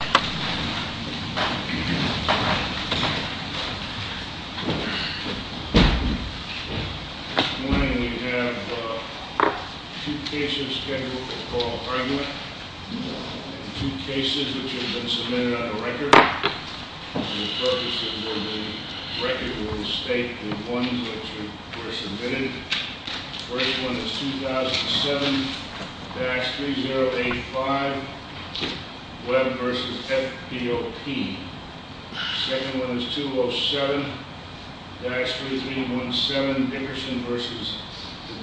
This morning we have two cases scheduled to call argument. Two cases which have been submitted on the record. The first one is 2007, Bax 3085, Webb v. FEOP. The second one is 2007, Bax 3317, Dickerson v.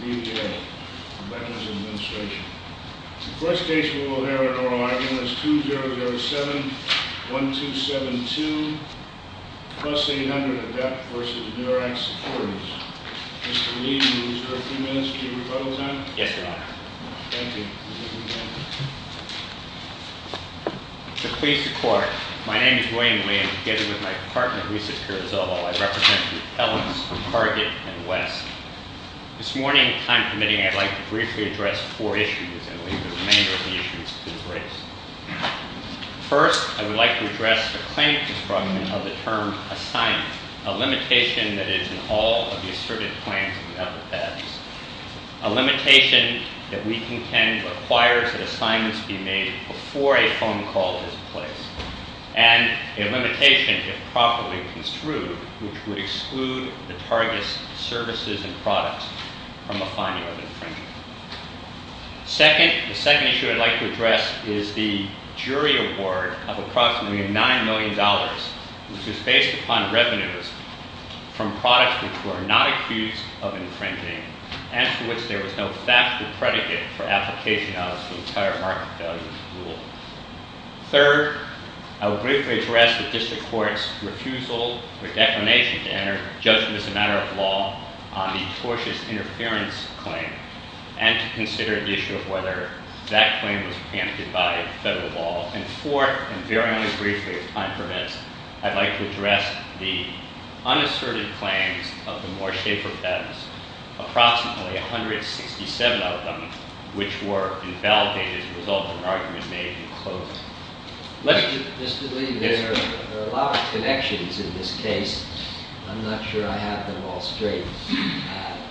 DeVilliers. The first case we will hear on our line is 2007, 1272, Plus 800 Adept v. Murex Securities. Mr. Lee, you have 30 minutes to give your call sign. Yes, Your Honor. Thank you. Mr. Police Department, my name is Dwayne Lee and together with my partner, Lisa Curzolo, I represent the elements of Target and West. This morning's time committee, I would like to briefly address four issues. First, I would like to address the claims defraudment of the term assignment. A limitation that is in all of the assertive claims of the FFS. A limitation that we contend requires that assignments be made before a phone call is placed. And a limitation, if properly construed, which would exclude the Target's services and products from a fine of infringement. Second, the second issue I would like to address is the jury award of approximately $9 million, which is based upon revenues from products which were not a piece of infringement and to which there was no factual predicate for application on this entire market value rule. Third, I would like to address the District Court's refusal or declination to enter, just as a matter of law, on the tortious interference claim and to consider the issue of whether that claim was amputated, cut or devolved. And fourth, and very briefly, if time permits, I would like to address the unassertive claims of the Moore Schaefer Feds, approximately 167 of them, which were invalidated as a result of an argument made in close. Let's just believe there are a lot of connections in this case. I'm not sure I have them all straight.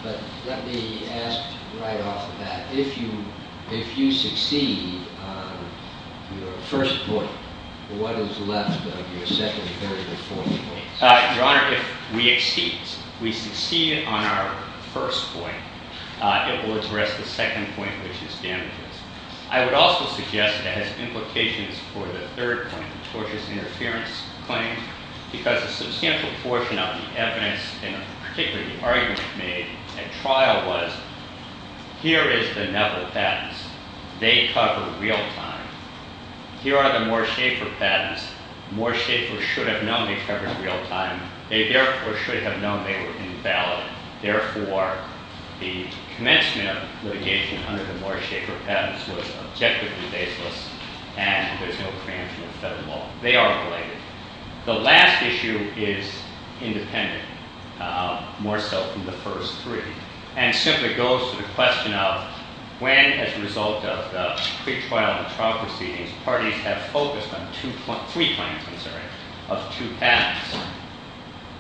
But let me ask right off that if you succeed on your first point, what is left of your second and third and fourth point? Your Honor, we succeed. We succeed on our first point. It was the rest of the second point which is standard. I would also suggest that as implications for the third point, the tortious interference claim, because a substantial portion of the evidence and particularly the arguments made at trial was, here is the number of patents. They cover real time. Here are the Moore Schaefer patents. Moore Schaefer should have known they covered real time. They, therefore, should have known they were invalid. Therefore, the commencement of litigating hundreds of Moore Schaefer patents was objectively baseless, and there's no claim to them at all. They are related. The last issue is independent, more so from the first three. And it simply goes to the question of when, as a result of the six-file prophecy, these parties have focused on two points, three points, I'm sorry, of two patents.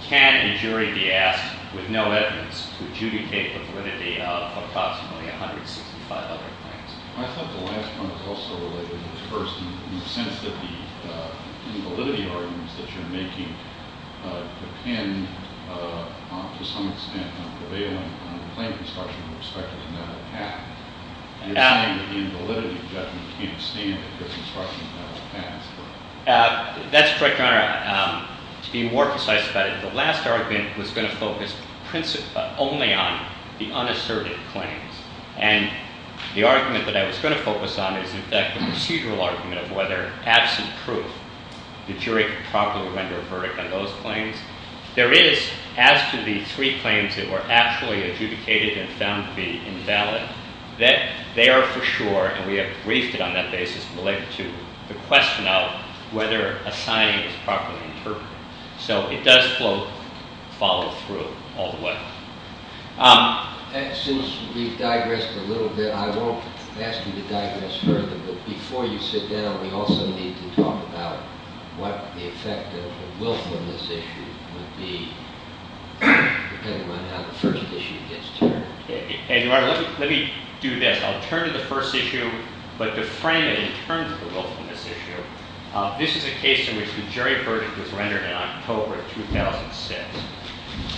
Can a jury be asked with no evidence to adjudicate the validity of approximately 165 other patents? I thought the last point was also related to the first, in the sense that the validity arguments that you're making can, to some extent, but even from the plaintiff's point of view, it's practically not going to happen. The validity doesn't seem to fit the structure of the patent. That's correct, Your Honor. To be more precise about it, the last argument was going to focus only on the unassertive claims. And the argument that I was going to focus on is, in fact, the procedural argument of whether that's the truth. The jury could probably render a verdict on those claims. There is, as to the three claims that were actually adjudicated and found to be invalid, that they are for sure, and we have agreed on that basis, related to the question of whether a sign is properly inferred. So it does flow follow through all the way. As soon as we've digressed a little bit, I don't ask you to digress further, but before you sit down, we also need to talk about what the effect of the Wilkmanness issue would be, depending on how the first issue gets determined. And, Your Honor, let me do that. I'll turn to the first issue, but to frame it in terms of the Wilkmanness issue, this is a case in which the jury verdict was rendered in October 2006.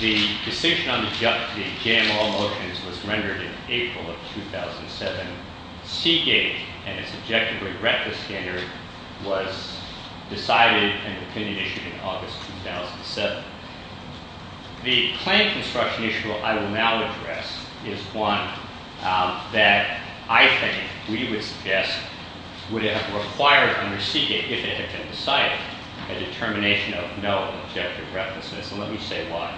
The distinction on the judge being Jamal Wilkins was rendered in April of 2007. Seeking an objectively reckless standard was decided in an opinion issue in August of 2007. The claim construction issue I will now address is one that I think we would guess would have required under seeking, if it had been decided, a determination of no objective recklessness. Let me say why.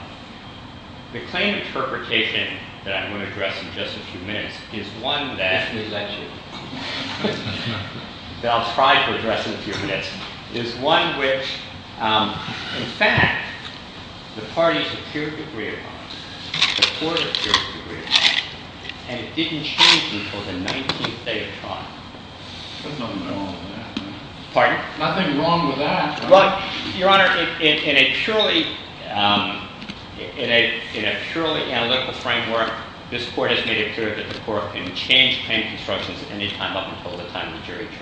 The claim interpretation that I'm going to address in just a few minutes is one that is actually, that I'll probably address in a few minutes, is one in which, in fact, the party secured the grid, the court secured the grid, and it didn't change until the 19th day of trial. Pardon? Nothing wrong with that. Your Honor, in a truly analytical framework, this court has made it clear that the court can change claim construction at any time up until the time the jury turns.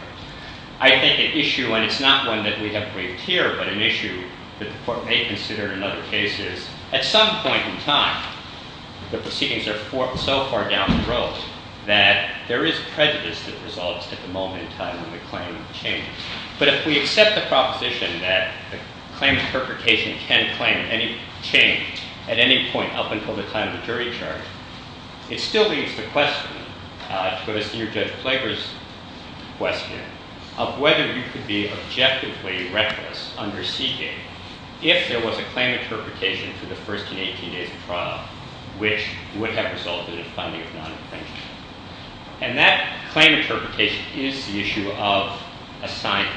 I think an issue, and it's not one that we have for you here, but an issue that the court may consider in other cases, at some point in time, the proceedings are so far down the road that there is prejudice that resolves at the moment in time when the claim is changed. But if we accept the proposition that the claim interpretation can claim any change at any point up until the time the jury turns, it still leads to the question, it goes near to Flaker's question, of whether you could be objectively reckless under seeking if there was a claim interpretation for the first and 18th day of trial which would have resulted in a claim of non-infringement. And that claim interpretation is the issue of assigning.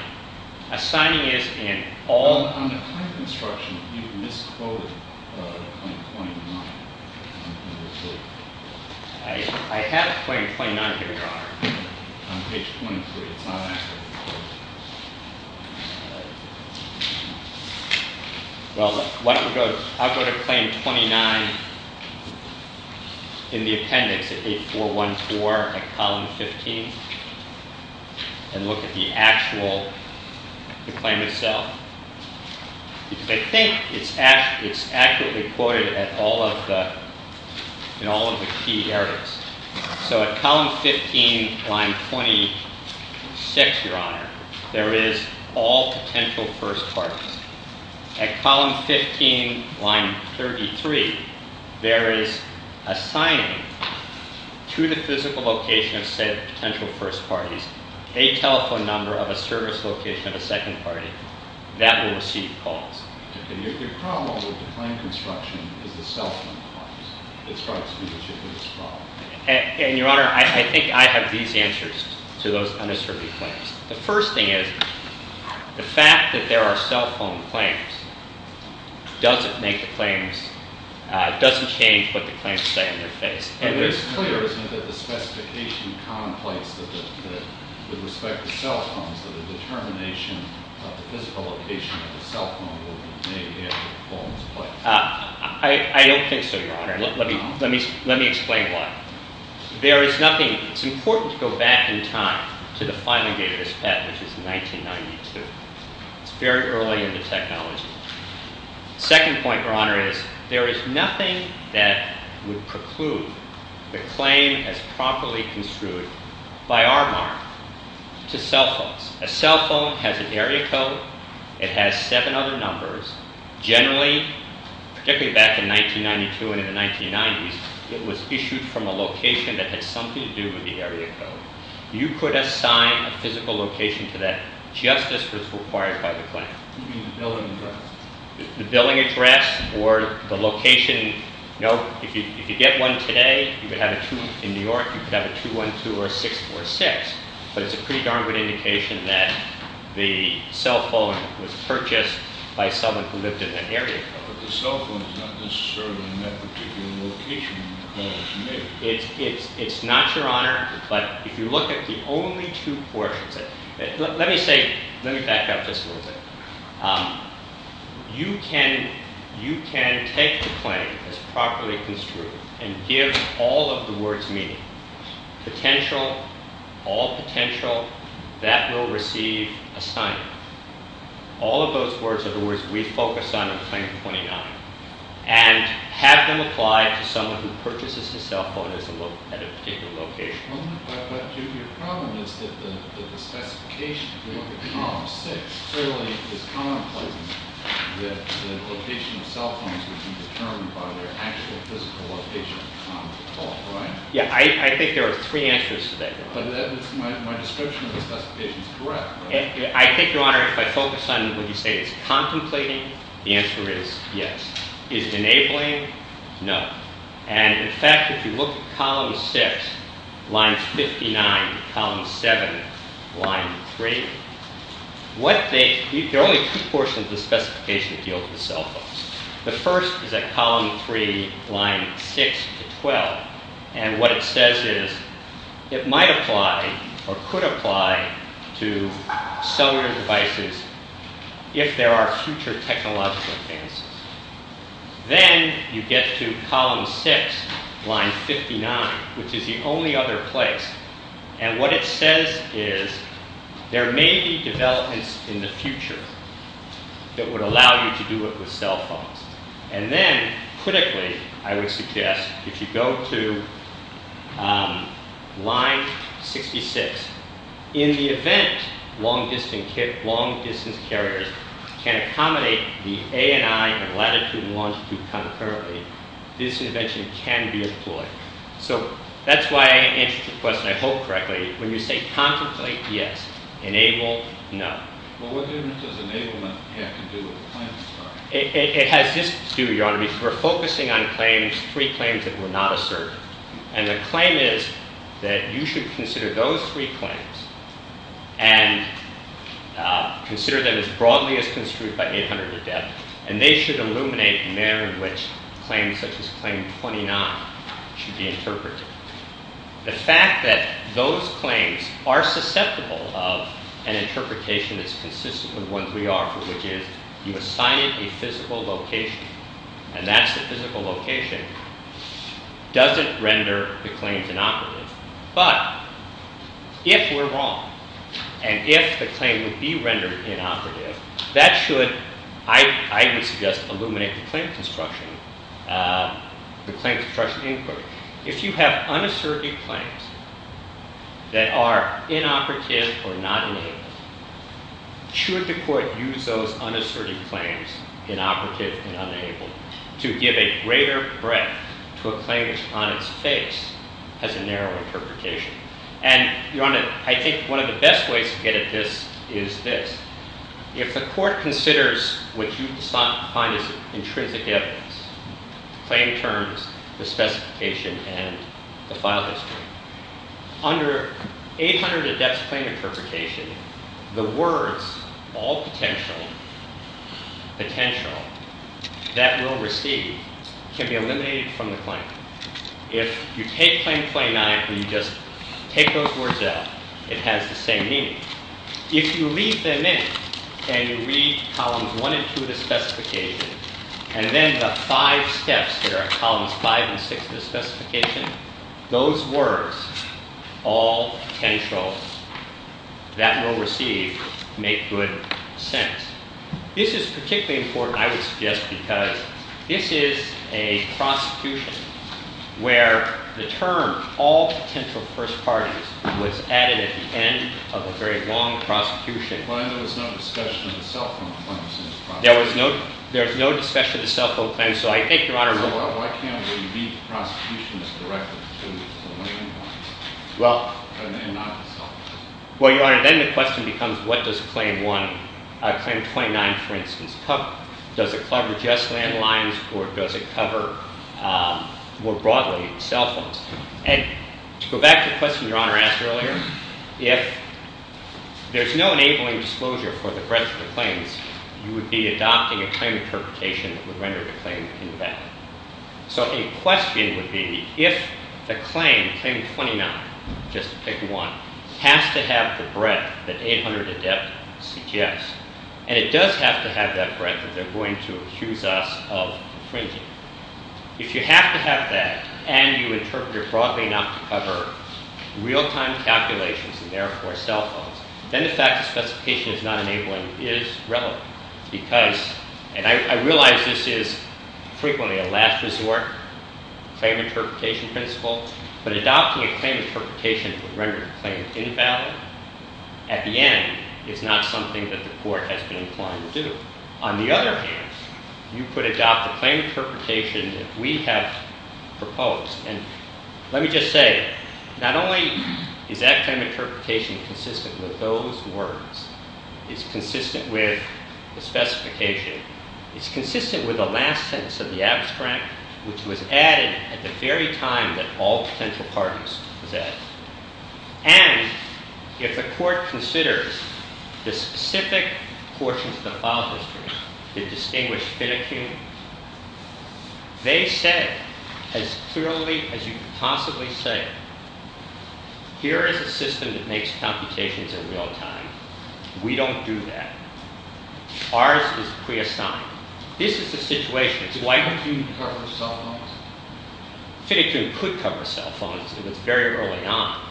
Assigning is in all kinds of construction. Do you misquote claim 29? I have claim 29 here, Your Honor. I'll take claim 29. Well, I'll go to claim 29 in the appendix at page 414 of column 15 and look at the actual claim itself. I think it's accurately quoted in all of the key areas. So at column 15, line 26, Your Honor, there is all potential first parties. At column 15, line 33, there is assigning to the physical location of a potential first party a telephone number of a service location of a second party. That will receive calls. And, Your Honor, I think I have these answers to those unassertive claims. The first thing is the fact that there are cell phone claims doesn't change what the claims say in this case. And it is clear that the specification of commonplace with respect to cell phones that the determination of the physical location of the cell phone may be as follows. I can't say, Your Honor. Let me explain why. There is nothing. It's important to go back in time to the final date of this test, which is 1992. It's very early in the technology. The second point, Your Honor, is there is nothing that would preclude the claim as properly construed by our monarch to cell phones. A cell phone has an area code. It has seven other numbers. Generally, particularly back in 1992 and in the 1990s, it was issued from a location that had something to do with the area code. You could assign a physical location to that just as was required by the claim. The billing address or the location. If you get one today, you could have it in New York, you could have it 212 or 646. But it's a pretty darn good indication that the cell phone was purchased by someone who lived in that area. But the cell phone is not necessarily in that particular location, Your Honor. It's not, Your Honor, but if you look at the only two ports of it, let me say, let me back up this a little bit. You can take the claim as properly construed and give all of the words meaning. Potential, all potential, that will receive assignment. All of those words are the words that we focus on in the claim you're pointing out. And have them apply to someone who purchases a cell phone at a particular location. Your problem is that the classification is fairly economical that the location of the cell phone is determined by the physical location of the cell phone. Yeah, I think there are three answers to that. My description of the classification is correct. I think, Your Honor, if I focus on what you say is contemplating, the answer is yes. Is enabling? No. And, in fact, if you look at column six, line 59, column seven, line three, what they, there are only two portions of the specification that deal with the cell phones. The first is at column three, line six to 12. And what it says is it might apply or could apply to cellular devices if there are future technological advances. Then you get to column six, line 59, which is the only other place. And what it says is there may be developments in the future that would allow you to do it with cell phones. And then, critically, I would suggest if you go to line 66, in the event long-distance carriers can accommodate the ANI latitude and longitude concurrently, this invention can be employed. So that's why I answered the question, I hope, correctly. When you say contemplate, yes. It has this to do, Your Honor, is we're focusing on claims, three claims that were not asserted. And the claim is that you should consider those three claims and consider them as broadly as construed by 800 to death. And they should illuminate the manner in which claims such as claim 29 should be interpreted. The fact that those claims are susceptible of an interpretation that's consistent with what we offer, which is you assign it a physical location, and that physical location doesn't render the claims inoperative. But if we're wrong, and if the claim would be rendered inoperative, that should, I would suggest, illuminate the claims construction, the claims construction inquiry. Those unasserted claims inoperative and unable to give a greater breadth to a claimant's time and space has a narrow interpretation. And, Your Honor, I think one of the best ways to get at this is this. If the court considers what you define as intrinsic evidence, claim terms, the specification, and the file history, under 800 to death claim interpretation, the words all potential, potential, that will receive can be eliminated from the claim. If you take claim 29 and you just take those words out, it has the same meaning. If you read them in, and you read columns 1 and 2 of the specification, and then the five steps that are columns 5 and 6 of the specification, those words, all potential, that will receive, make good sense. This is particularly important, I would suggest, because this is a prosecution where the term, all potential first parties, was added at the end of a very long prosecution. Why was there no discussion of self-imposed claims? So I think, Your Honor. Well, why can't there be a prosecution that's directed to the claim? Well, Your Honor, then the question becomes, what does claim 29, for instance, cover? Does it cover just landlines? Or does it cover, more broadly, cell phones? And to go back to the question Your Honor asked earlier, if there's no enabling disclosure for the present claims, you would be adopting a claim interpretation that would render the claim invalid. So a question would be, if the claim, claim 29, just to pick one, has to have the breadth, the 800 in depth CTS. And it does have to have that breadth, or they're going to accuse us of infringement. If you have to have that, and you interpret it broadly enough to cover real-time calculations, and therefore cell phones, then the fact that the specification is not enabling is relevant. And I realize this is frequently a last resort claim interpretation principle. But adopting a claim interpretation would render the claim invalid. At the end, it's not something that the court has been inclined to do. On the other hand, you could adopt a claim interpretation that we have proposed. And let me just say, not only is that claim interpretation consistent with those words. It's consistent with the specification. It's consistent with the last tense of the abstract, which was added at the very time that all central parties possessed. And if the court considers the specific portions of the file system, the distinguished fiduciary, they said as clearly as you could possibly say, here is a system that makes computations in real time. We don't do that. Ours is prehistoric. This is the situation. So why didn't you cover cell phones? Fiduciary could cover cell phones. It was very early on.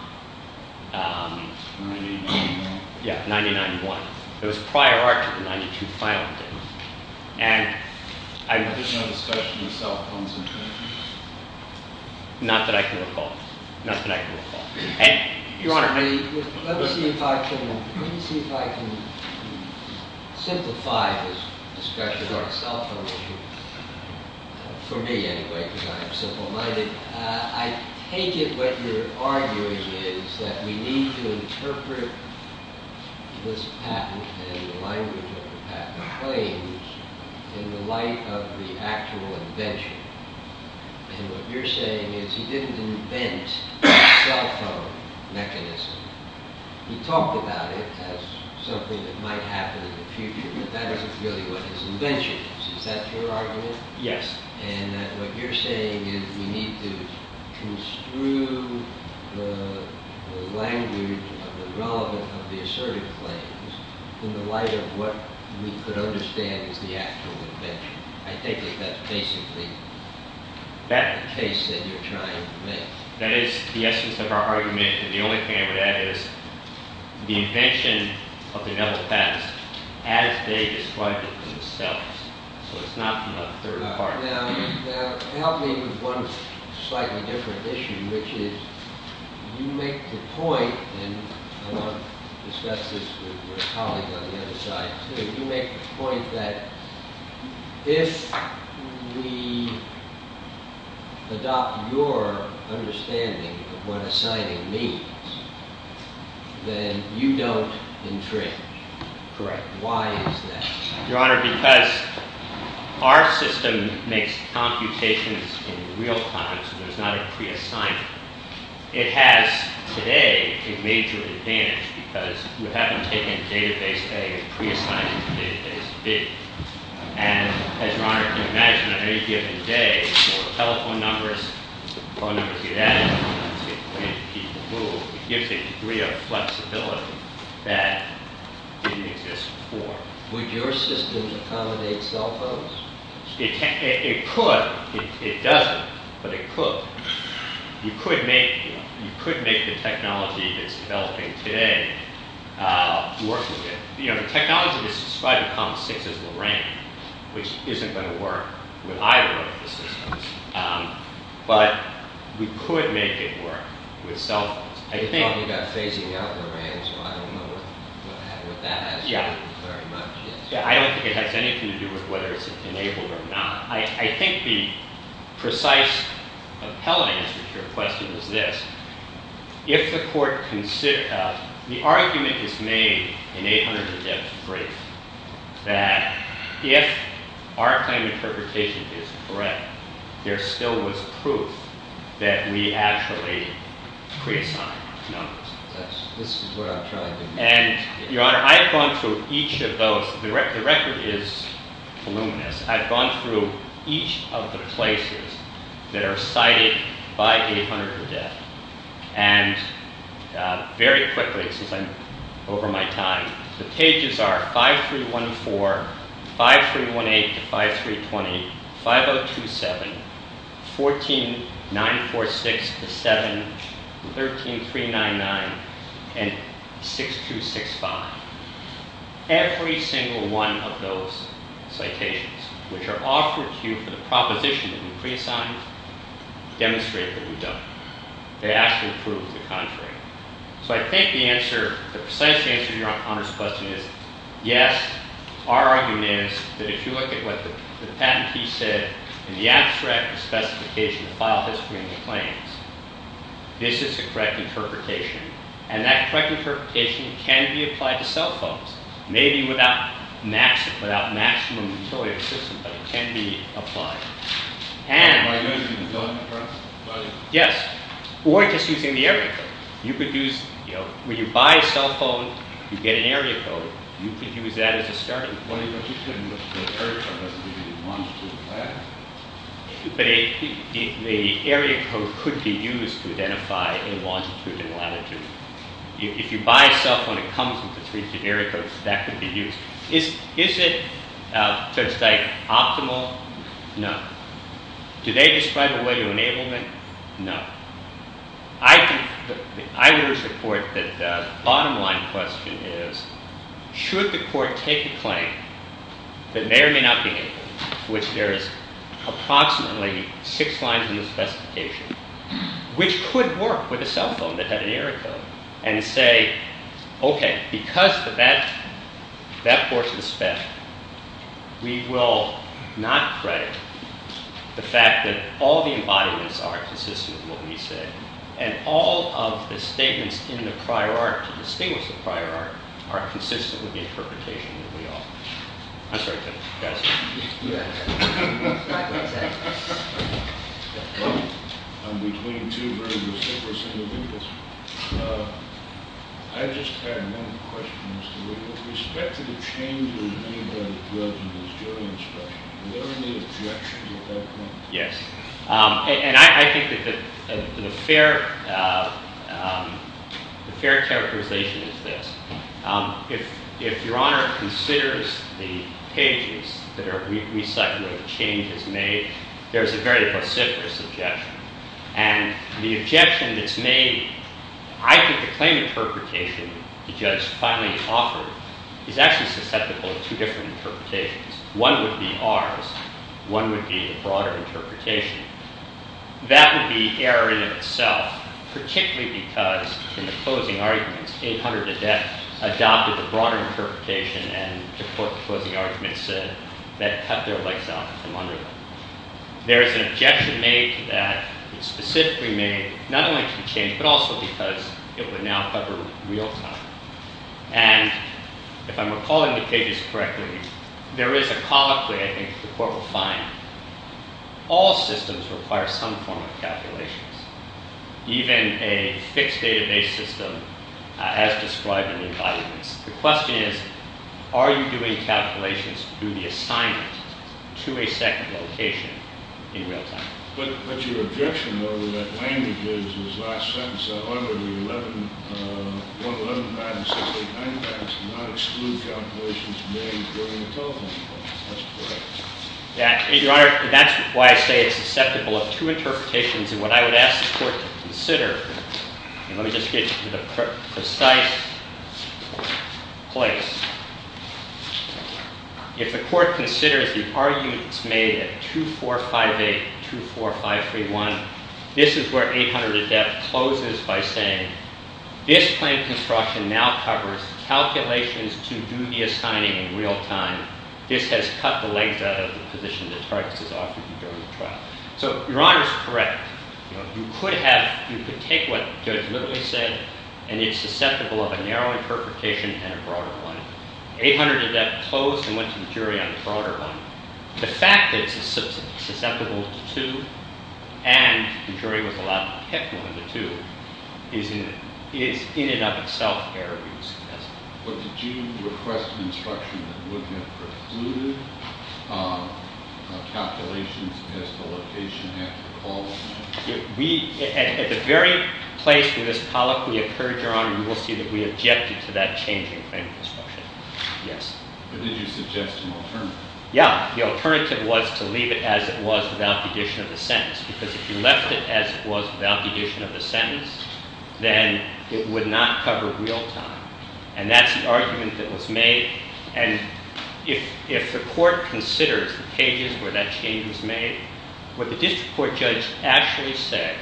It's really early on. Yeah, it's 1991. It was prior to 1992, finally. And I had no discussion of cell phones until then. Not that I can recall. Not that I can recall. Your Honor, let me see if I can simplify this discussion of cell phones. For me, anyway, because I'm a civil lawyer. I take it what you're arguing is that we need to interpret this patent-making language in the light of the actual invention. And what you're saying is he didn't invent the cell phone mechanism. He talked about it as something that might happen in the future. But that isn't really what he's inventing. Is that your argument? Yes. And what you're saying is we need to construe the language of the relevance of the assertive claims in the light of what we could understand as the actual invention. I take it that's basically the case that you're trying to make. That is the essence of our argument. The only thing I've got is the invention of the devil's patent as they described it in the cell. So it's not from a third party. Now, I'm just helping with one slightly different issue, which is you make the point that if we adopt your understanding of what assigning means, then you don't entrench. Correct. Why is that? Your Honor, because our system makes computations in real time, so it's not a pre-assignment. It has, today, a major advantage because we haven't taken a database egg and pre-assigned it to a database bin. And as Your Honor can imagine, on any given day, your telephone numbers, your phone numbers get added to the database. It will give the degree of flexibility that didn't exist before. Would your system accommodate cell phones? It could. It doesn't. But it could. You could make the technology that's developing today work with it. You know, the technology that's supposed to come sticks at the ramp, which isn't going to work with either one of the systems. But you could make it work with cell phones. I think that things around the ramps might move with that. Yeah. Yeah, I don't think it has anything to do with whether it's enabled or not. I think the precise tele-answer to your question is this. If the court can sit us, the argument is made in 800 against 3 that if our claim of perpetration is correct, there still is proof that we actually pre-assigned the number. Yes, this is what I thought. And Your Honor, I've gone through each of those. The record is luminous. I've gone through each of the places that are cited by 800 in the death. And very quickly, since I'm over my time, the cases are 5314, 5318, 5320, 5027, 14946 to 7, 13399, and 6265. Every single one of those citations, which are awkward cues for the proposition that we pre-assigned, demonstrate that we don't. They ask for proof of the contrary. So I think the precise answer to Your Honor's question is yes, our argument is that if you look at what the patentee said in the abstract specification of file history in the claims, this is the correct interpretation. And that correct interpretation can be applied to cell phones. Maybe without maximum sort of assistance, but it can be applied. And, Your Honor, you can go ahead and confirm. Go ahead. Yes. Or just using the area code. You could use, you know, when you buy a cell phone, you get an area code. You could use that as a starting point. Or you could use a search for it. The area code could be used to identify a lawsuit If you buy a cell phone and it comes with an area code, that could be used. Is it, so to say, optimal? No. Do they describe a way to enable it? No. I would support that the bottom line question is, should the court take a claim that may or may not be enabled, which there is approximately six lines in the specification, which could work with a cell phone that had the area code, and say, OK, because of that course of step, we will not credit the fact that all the embodiments are consistent with what we say, and all of the statements in the prior article, the statements in the prior article, are consistent with the interpretation of the law. I'm sorry. Yes. Yes. And I think that the fair characterization is this. If Your Honor considers the pages that are recycled and changes made, there's a very consistent objection. And the objection that's made, I think the claim interpretation, because finally it's offered, is actually susceptible to different interpretations. One would be ours. One would be the broader interpretation. That would be error in itself, particularly because in the broader interpretation, and to quote the argument said, that's how they were laid down. There is an objection made that is specifically made, not only to change, but also because it would now cover real time. And if I'm recalling the pages correctly, there is a cause for that, and the court will find. All systems require some form of calculation. Even a fixed database system, as described in the indictment. The question is, are you doing calculations through the assignments to a second location in real time? But the objection, though, is that language is, is not sentenced under the 11, you know, 11 times to the 10 times to not exclude calculations made during the telephone call. That's correct. Yes. Your Honor, that's why I say it's susceptible to two I would ask the court to consider, and let me just get to the precise place. If the court considers the arguments made at 2458 to 24531, this is where 800 to death closes by saying, this claim construction now covers calculations to do the assignments in real time. This has cut the length of the position as far as it's offered you during the trial. So, Your Honor is correct. You could have, you could take what Judge Whitley said, and it's susceptible of a narrow interpretation and a broader one. 800 to death closed and went to jury on the broader one. The fact that it's susceptible to two, and the jury was allowed to catch one of the two, is in and of itself very suspicious. But did you request an instruction that would have included calculations as to what the patient had to follow? At the very place where this policy occurred, Your Honor, you will see that we objected to that change in claim construction. Yes. But did you suggest an alternative? Yeah, the alternative was to leave it as it was without the addition of the sentence. Because if you left it as it was without the addition of the sentence, then it would not cover real time. And that's the argument that was made. And if the court considered changes where that change was made, would the district court judge actually say,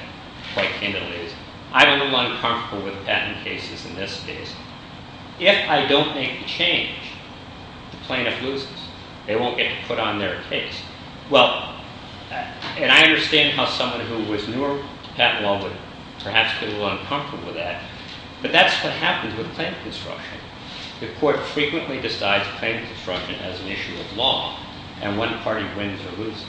quite plainly, I'm a little uncomfortable with patent cases in this case. If I don't make the change, plaintiff loses. They won't get to put on their case. Well, and I understand how someone who was newer to patent law would perhaps feel a little uncomfortable with that. But that's what happens with claim construction. The court frequently decides claim construction as an issue of law. And one party wins or loses.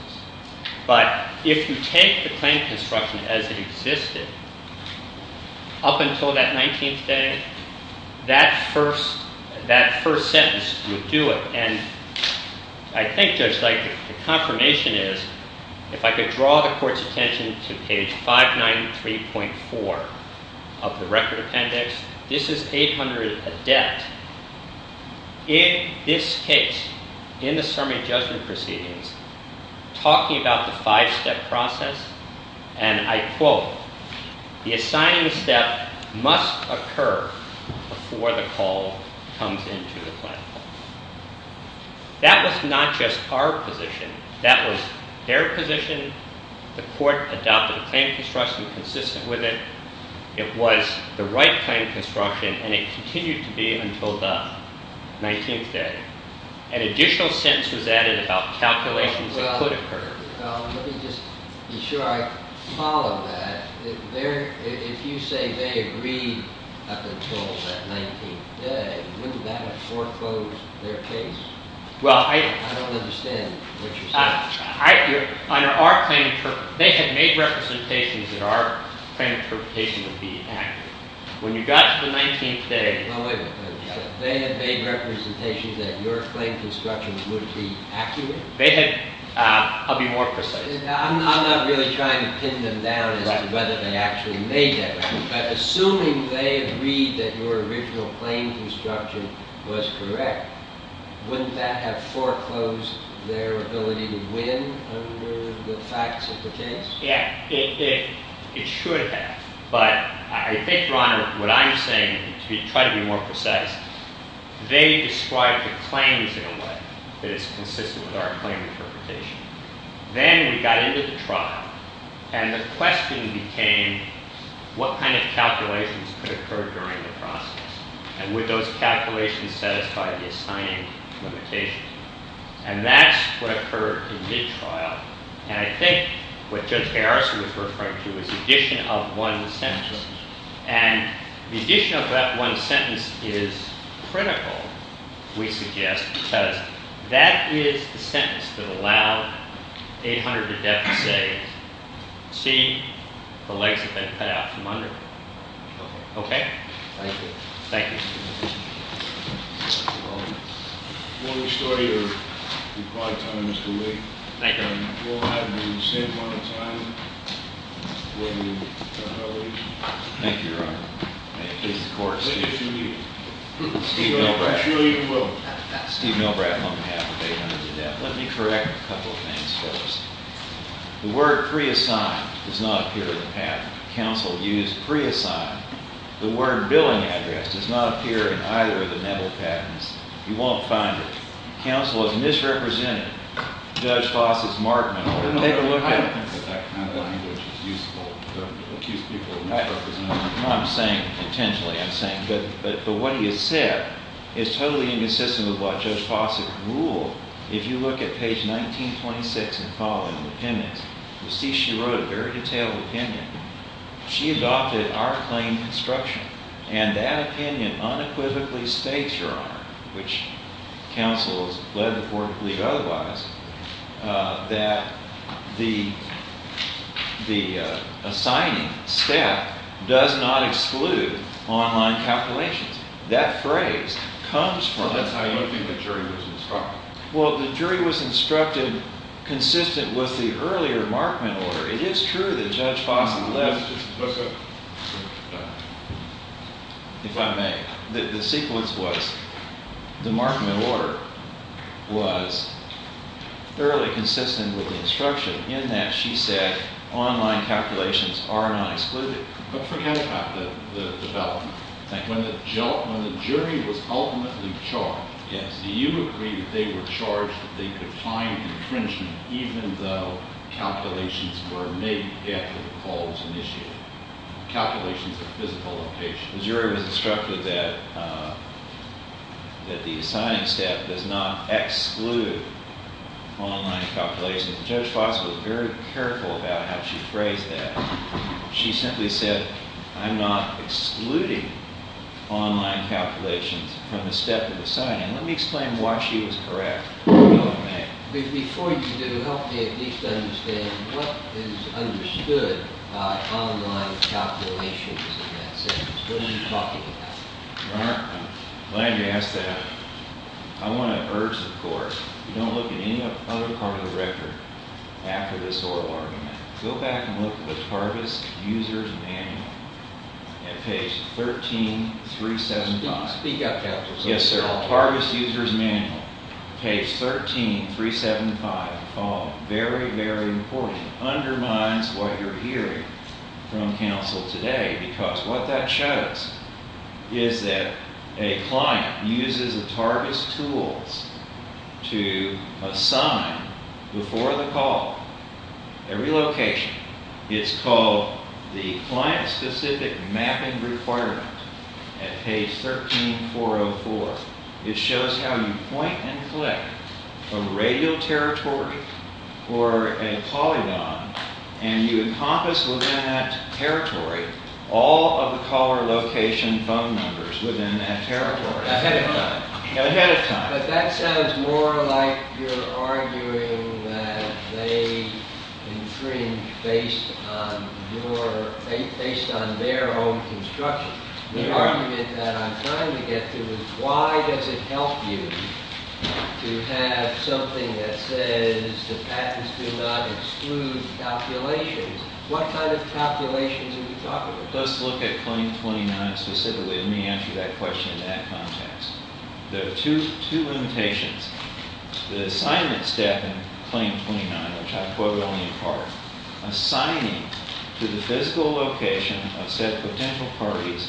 But if you take the claim construction as it existed, up until that 19th day, that first sentence would do it. And I think just like the confirmation is, if I could draw the court's attention to page 593.4 of the record appendix. This is page under a death. In this case, in the summary of judgment proceedings, talking about the five-step process, and I quote, the assignment of the step must occur before the call comes into effect. That was not just our position. That was their position. The court adopted a claim construction consistent with it. It was the right claim construction. And it continued to be until the 19th day. An additional sentence was added about calculations that could occur. Should I follow that? If you say they agreed up until that 19th day, wouldn't that foreclose their case? I don't understand what you're saying. They had made representations that our claim construction would be accurate. When you got to the 19th day, they had made representations that your claim construction would be accurate? I'll be more precise. I'm not really trying to pin them down about whether they actually made that. Assuming they agreed that your original claim construction was correct, wouldn't that have foreclosed their ability to win over the facts of the case? Yes, it should have. But I think, Your Honor, what I'm saying is to be quite a bit more precise. They described the claims in a way that is consistent with our claim interpretation. Then we got into the trial. And the question became, what kind of calculations could occur during the process? And would those calculations satisfy the assignment of the case? And that's what occurred in this trial. And I think what Judge Harris referred to is the addition of one sentence. And the addition of that one sentence is critical, we suggest, because that is the sentence that allowed 800 to death today. See? The light has been cut out from under. OK? Thank you. Thank you. Another story you're probably telling, Mr. Wigg. Thank you. And we'll have you at the same point in time when you turn it over to me. Thank you, Your Honor. Thank you. Of course. Good to see you. Steve Milgram. Actually, you can go. Steve Milgram on behalf of 800 to death. Let me correct a couple of things first. The word free assignment does not appear in the patent. Counsel used free assignment. The word billing address does not appear in either of the medal patents. You won't find it. Counsel has misrepresented Judge Fawcett's mark. Let me take a look at it. I don't think it's useful for a few people. I'm saying intentionally, I'm saying. But what he has said is totally inconsistent with what Judge Fawcett ruled. If you look at page 1926 and following, the appendix, you'll see she wrote a very detailed opinion. She adopted our claim construction. And that opinion unequivocally states, Your Honor, which counsel's letter to the Court of Appeals otherwise, that the assignment staff does not exclude online calculations. That phrase comes from it. I don't think the jury was instructed. Well, the jury was instructed consistent with the earlier markment order. It is true that Judge Fawcett left. Let's go. The sequence was, the markment order was fairly consistent with the instruction in that she said online calculations are not excluded. Don't forget about the development. When the jury was ultimately charged, do you agree that they were charged with a defined intention even though calculations were made after the call was initiated? Calculations of physical location. The jury was instructed that the assignment staff does not exclude online calculations. And Judge Fawcett was very careful about how she phrased that. She simply said, I'm not excluding online calculations from the step of the assignment. Let me explain why she was correct. Before you do, help me at least understand what is understood by online calculations. What are you talking about? I'm glad you asked that. I want to urge the court, don't look at any other part of the record after this oral argument. Go back and look at the Harvest User's Manual at page 13375. Speak up, Counselor. Yes, sir. Harvest User's Manual, page 13375. Very, very important. It undermines what you're hearing from counsel today because what that shows is that a client uses a target tool to assign, before the call, every location. It's called the Client-Specific Mapping Requirements at page 13404. It shows how you point and click a radial territory or a polygon, and you encompass within that territory all of the caller location phone numbers within that territory ahead of time. But that sounds more like you're arguing that they infringed based on their own construction. The argument that I'm trying to get to is why does it help you to have something that says the patents do not exclude calculations? What kind of calculations are you talking about? Let's look at Claim 29 specifically. Let me answer that question in that context. There are two limitations. The assignment staff in Claim 29, which I'll quote only in part, assigning to the physical location of said potential parties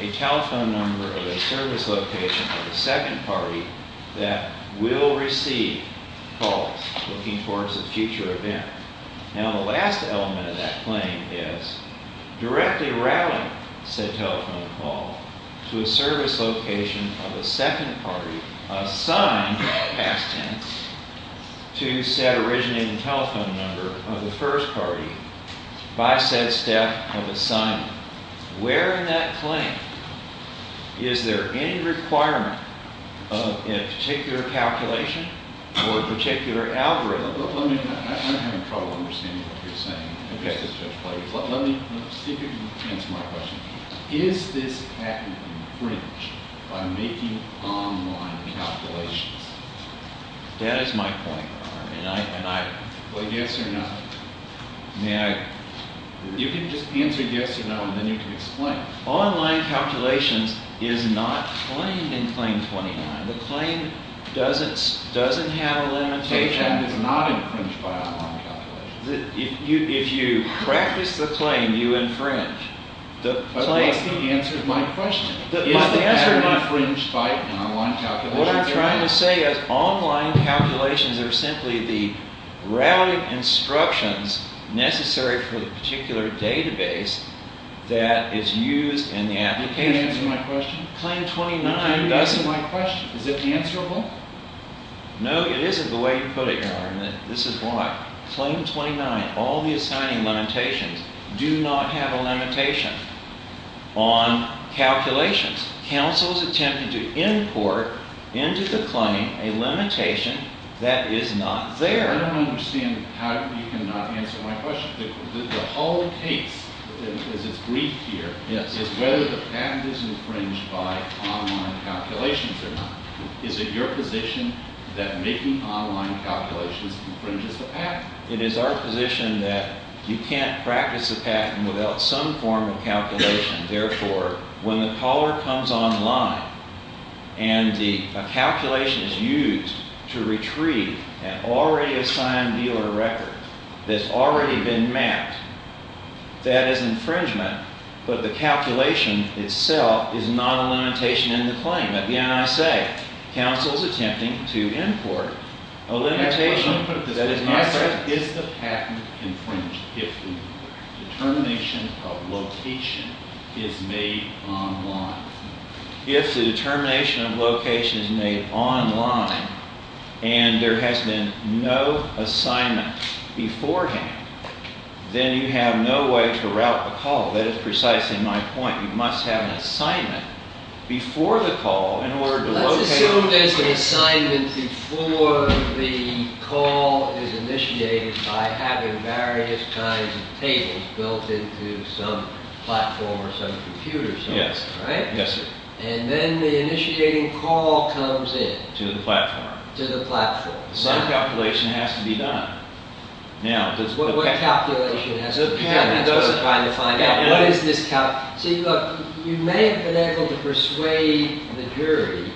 a telephone number of a service location of a second party that will receive calls looking forward to a future event. Now, the last element of that claim is directly grappling said telephone call to a service location of a second party assigned, past tense, to said originating telephone number of the first party by said staff of assignment. Where in that claim is there any requirement of a particular calculation or a particular algorithm? Is this patent infringed by making online calculations? That is my point. Well, yes or no. Now, you can just use a yes or no, and then you can explain. Online calculation is not claimed in Claim 29. The claim doesn't have a limitation. It's not infringed by online calculation. If you practice the claim, you infringe. But that answers my question. Is the answer infringed by an online calculation? What I'm trying to say is online calculations are simply the route of instructions necessary for the particular database that is used in the application. That answers my question. Claim 29 doesn't. That's my question. Is it answerable? No, it isn't the way you put it, Your Honor. And this is why. Claim 29, all the assigning limitations do not have a limitation on calculations. Counsel's attempt to import into the claim a limitation that is not there. I don't understand how you cannot answer my question. The whole case, as it reads here, is whether the patent is infringed by online calculations or not. Is it your position that making online calculations infringes the patent? It is our position that you can't practice a patent without some form of calculation. Therefore, when the caller comes online and the calculation is used to retrieve an already assigned dealer record that's already been mapped, that is infringement. But the calculation itself is not a limitation in the claim. At the NSA, counsel is attempting to import a limitation that is not there. Is the patent infringed? If the determination of location is made online. If the determination of location is made online and there has been no assignment beforehand, then you have no way to route the call. That is precisely my point. You must have an assignment before the call in order to locate it. Let's assume that the assignment before the call is initiated by having various kinds of tables built into some platform or some computer system. And then the initiating call comes in. To the platform. To the platform. Some calculation has to be done. What calculation? Those are the kind of things. You may have been able to persuade the jury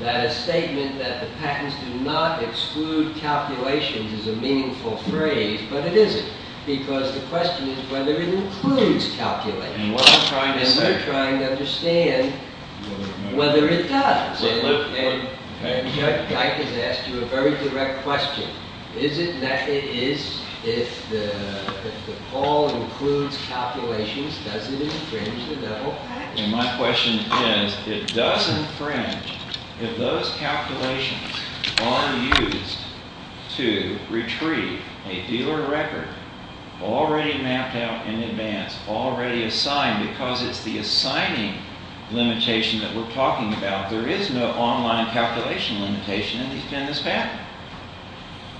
that a statement that the patents do not exclude calculations is a meaningful phrase. But it isn't. Because the question is whether it includes calculations. And they're trying to understand whether it does. And I can answer a very direct question. Is it that it is? If the call includes calculations, does it infringe the federal patent? My question is, it does infringe. If those calculations are used to retrieve a due or a record already mapped out in advance, already assigned, because it's the assigning limitation that we're talking about, there is no online calculation limitation at least in this statute.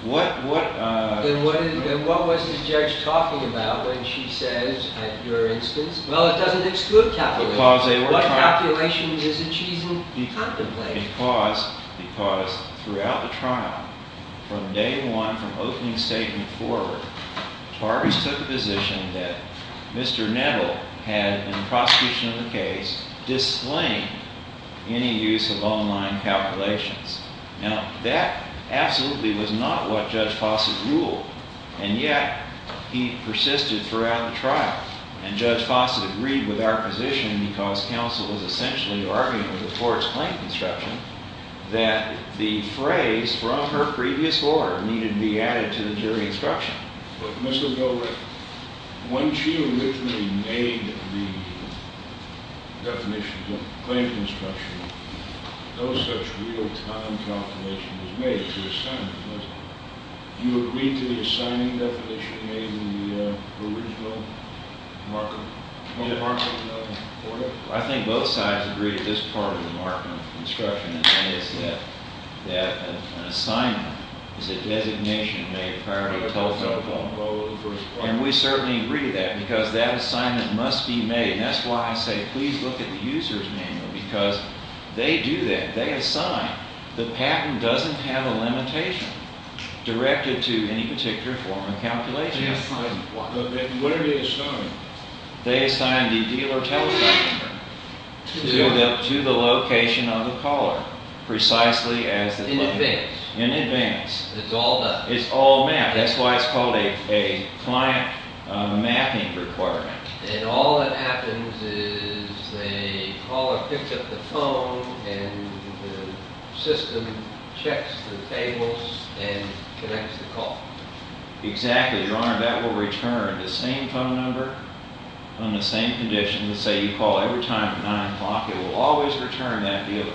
Then what was the judge talking about when she said, at your instance, well, it doesn't exclude calculations. Because what calculation is it she's looking for? Because throughout the trial, from day one, from opening statement forward, Tarry's took a position that Mr. Neville had, in the prosecution of the case, disclaimed any use of online calculations. Now, that absolutely was not what Judge Fossett ruled. And yet, he persisted throughout the trial. And Judge Fossett agreed with our position, because counsel was essentially arguing with the court's claim construction, that the phrase from her previous order needed to be added to the jury instruction. But Mr. Neville, when she uniquely made the definition of claim construction, no such real patent confirmation was made. Do you agree to the assignment that she made in the original Markham order? I think both sides agree that this part of the Markham instruction is that an assignment is a designation made prior to the call to the public. And we certainly agree to that, because that assignment must be made. That's why I say, please look at the user's manual, because they do that. They assign. The patent doesn't have a limitation directed to any particular form of calculation. Whatever it is, they assign the dealer telephone to the location of the caller, precisely as it was. In advance. In advance. It's all mapped. It's all mapped. That's why it's called a client mapping requirement. And all that happens is the caller picks up the phone and the system checks the tables and connects the call. Exactly, Your Honor. That will return the same phone number on the same condition. Let's say you call every time at 9 o'clock. It will always return that dealer.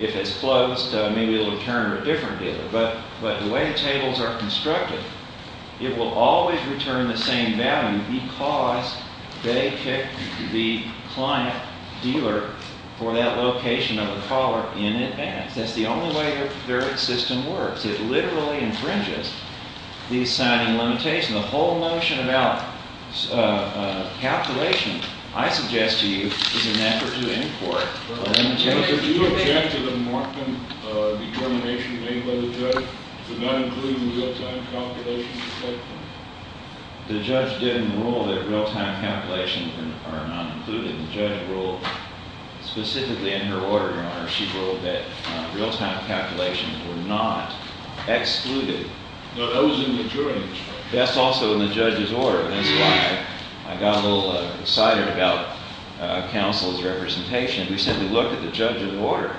If it's closed, maybe it'll return a different dealer. But the way the tables are constructed, it will always return the same value, because they pick the client dealer for that location of the caller in advance. That's the only way their system works. It literally infringes the assigned limitation. The whole notion about calculations, I suggest to you, is an effort to import a limitation. Is there a chance of a marked determination of any other threat to not include in the real-time calculations? The judge didn't rule that real-time calculations were not included. The judge ruled specifically in her order, Your Honor, she ruled that real-time calculations were not excluded. Those in the jury. That's also in the judge's order. I got a little excited about counsel's representation. If you simply look at the judge's order,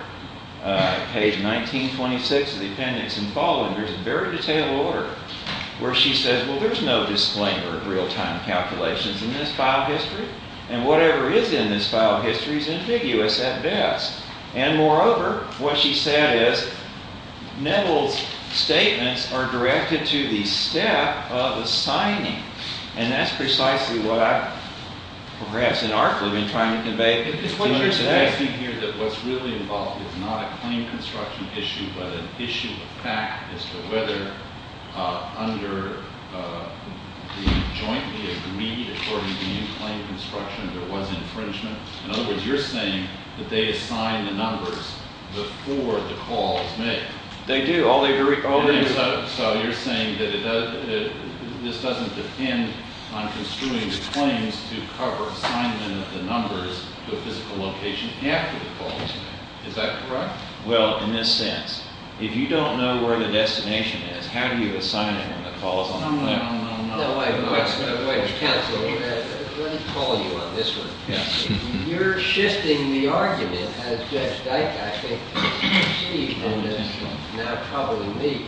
page 1926 of the appendix and follow it, there's a very detailed order where she says, well, there's no disclaimer of real-time calculations in this file of history. And whatever is in this file of history is ambiguous at best. And moreover, what she said is, Neville's statements are directed to the staff of the signing. And that's precisely what I, perhaps an article I'm trying to convey. It's because you're saying here that what's really involved is not a plain construction issue, but an issue of practice of whether under the joint committee for plain construction, there was an infringement. In other words, you're saying that they assign the numbers before the call is made. They do. All they do is, you're saying that this doesn't depend on construing the claims to cover the assignment of the numbers with the location after the call is made. Is that correct? Well, in this sense, if you don't know where the destination is, how do you assign it when the call is on the line? No, no, no, no, no. No, wait, wait. Let me follow you on this one. You're shifting the argument of Judge Dykstra, I think, and Steve, and Mr. Jones, and now a couple of me.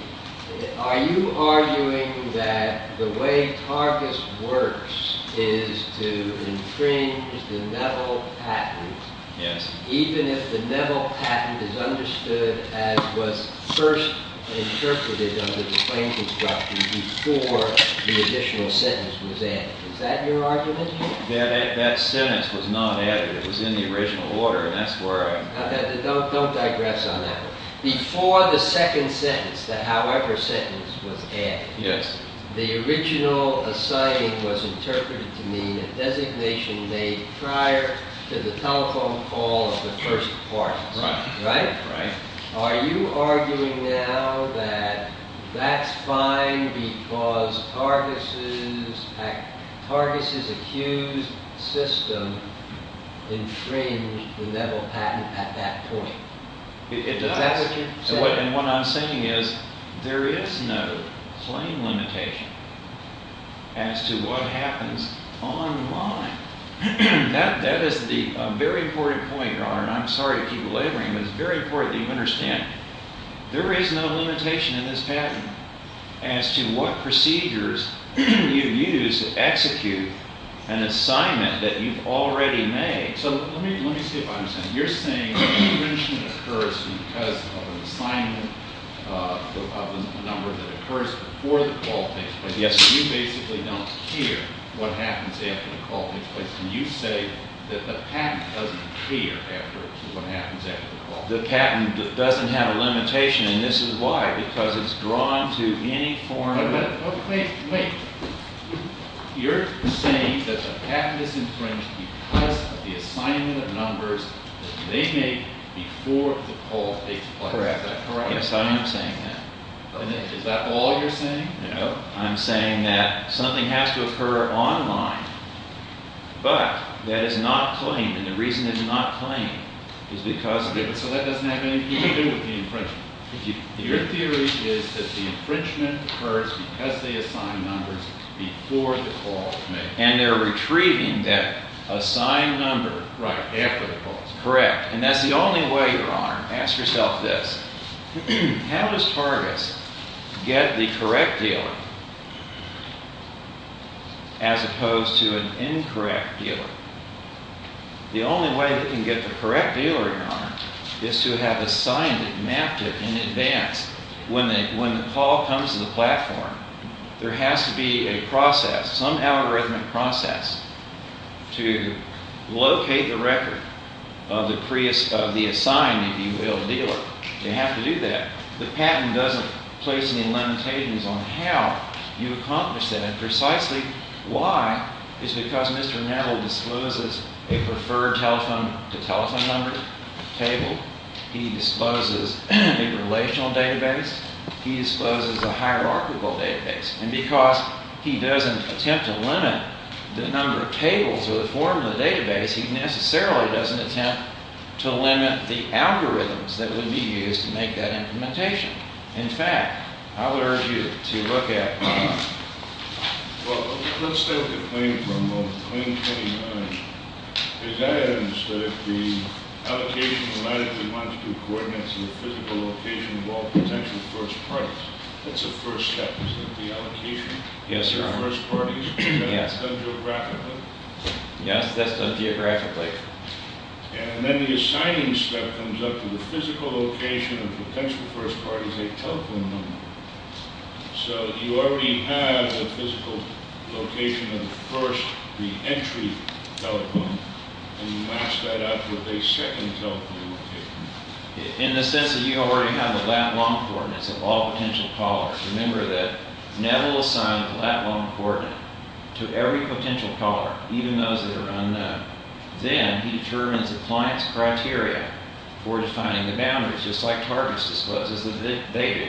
Are you arguing that the way progress works is to infringe the metal patent? Yes. Even if the metal patent is understood as was first interpreted under the plain construction before the additional sentence was added. Is that your argument? Yeah, that sentence was not added. It was in the original order, and that's where I am. Before the second sentence, the however sentence was added, the original assigning was interpreted to mean a designation made prior to the telephone call of the first part. Right? Right. Are you arguing now that that's fine because TARGIS' accused system infringed the metal patent at that point? Is that what you're saying? And what I'm saying is there is no claim limitation as to what happens online. That is the very important point, and I'm sorry to keep belaboring, but it's very important that you understand. There is no limitation in this patent as to what procedures you use to execute an assignment that you've already made. So let me see if I understand. You're saying the infringement occurs because of an assignment of a number that occurs before the call date. But yes, you basically don't care what happens after the call date. But can you say that the patent doesn't care after what happens after the call date? The patent doesn't have a limitation, and this is why. Because it's drawn to any foreign arrest. No, wait. Wait. You're saying that the patent is infringed because the assignment of numbers is to be made before the call date. Correct. That's what I'm saying. Is that all you're saying? No. I'm saying that something has to occur online, but that is not claimed. And the reason it's not claimed is because of it. So that doesn't have anything to do with the infringement. Your theory is that the infringement occurs because they assigned numbers before the call date. And they're retrieving that assigned number. Right, after the call date. Correct. And that's the only way you're armed. Ask yourself this. How does Pardis get the correct dealer as opposed to an incorrect dealer? The only way they can get the correct dealer in line is to have assigned it, mapped it in advance. When the call comes to the platform, there has to be a process. Some algorithmic process to locate the record of the assigned, if you will, dealer. They have to do that. The patent doesn't place any limitations on how you accomplish that. Precisely why is because Mr. Nettle discloses a preferred telephone to telephone number table. He discloses a relational database. He discloses a hierarchical database. And because he doesn't attempt to limit the number of tables or the form of the database, he necessarily doesn't attempt to limit the algorithms that would be used to make that implementation. In fact, I would urge you to look at Pardis. Well, let's start with the claim from Claim 29. It's items that if the allocations and items we want to do coordinates and physical locations all protect the first premise. That's the first step, isn't it? The allocation. Yes, sir. The first party. Yes. That's a graph. Yeah, that's a geographic layer. And then the assigned step comes up with the physical location of the potential first parties that telephone number. So you already have a physical location of the first re-entry telephone. And you match that up with a second telephone. In the sense that you already have the last one for it. So all potential callers. Remember that Neville assigned that one coordinate to every potential caller, even those that are unknown. Then he determines the client's criteria for defining the boundaries, just like Pardis does. It's a big data.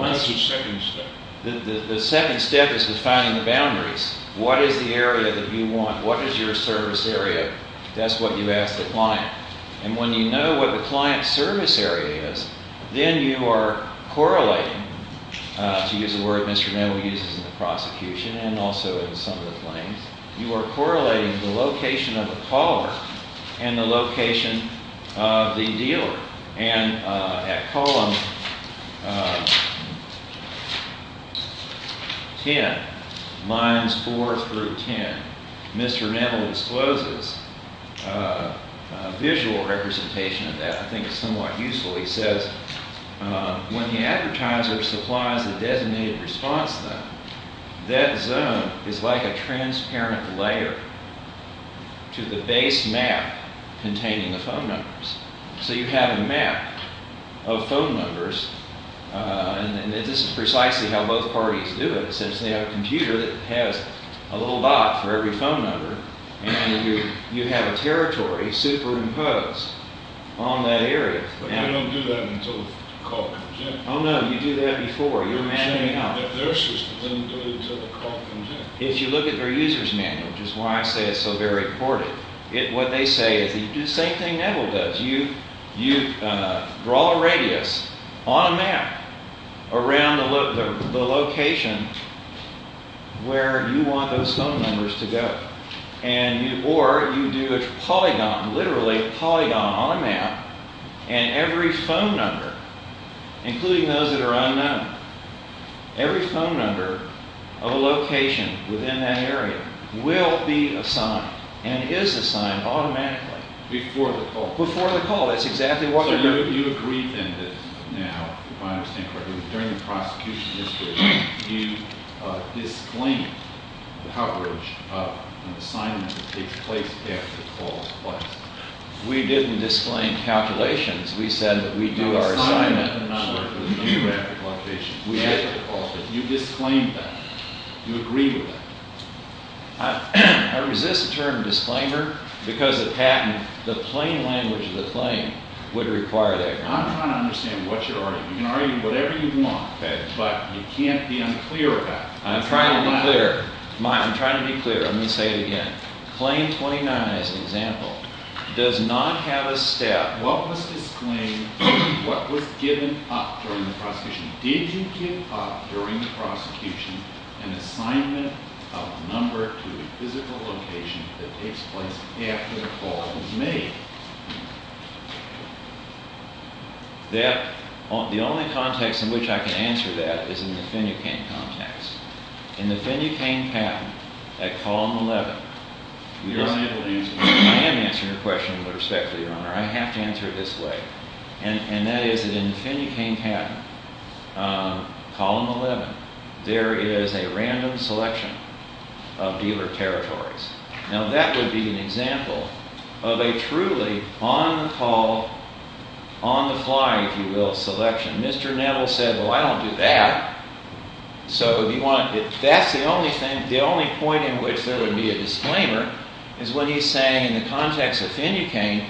What is the second step? The second step is defining the boundaries. What is the area that you want? What is your service area? That's what you ask the client. And when you know what the client's service area is, then you are correlating, to use the word Mr. Neville uses in the prosecution and also in some of the claims, you are correlating the location of the caller and the location of the dealer. And at column 10, lines 4 through 10, Mr. Neville exposes a visual representation of that. I think it's somewhat useful. He says, when the advertiser supplies a designated response zone, that zone is like a transparent layer to the base map containing the phone numbers. So you have a map of phone numbers. And this is precisely how both parties do it. It says they have a computer that has a little box for every phone number. And you have a territory superimposed on that area. We don't do that until the caller. Oh, no. You do that before. Your man may not. If you look at your user's manual, which is why I say it's so very important, what they say is the same thing Neville does. You draw a radius on a map around the location where you want those phone numbers to go. Or you do a polygon, literally a polygon on a map. And every phone number, including those that are unknown, every phone number of a location within that area will be assigned and is assigned automatically before the call. Before the call. That's exactly what I mean. So you agree then that now, by and large, we bring across pieces that you disclaim the coverage of an assignment that takes place after the call is requested. We didn't disclaim calculations. We said that we do our assignments in a number that we do after the call gets requested. You disclaim that. You agree with it. I resist the term disclaimer because it's the plain language of the claim would require that. I don't understand what you're arguing. You can argue whatever you want, but you can't be unclear about it. I'm trying to be clear. I'm trying to be clear. I'm going to say it again. Claim 29, as an example, does not have a set, what was disclaimed, what was given up during the prosecution. Did you give up during the prosecution an assignment of a number to the physical location that takes place after the call was made? The only context in which I can answer that is in the Finucane context. In the Finucane pattern, at column 11, you don't have to use this. I can answer your question with respect to your honor. I have to answer it this way. And that is, in the Finucane pattern, column 11, there is a random selection of dealer territories. Now, that would be an example of a truly on-the-call, on-the-fly, if you will, selection. Mr. Nettle says, well, I don't do that. So that's the only point in which there would be a disclaimer is when he's saying, in the context of Finucane,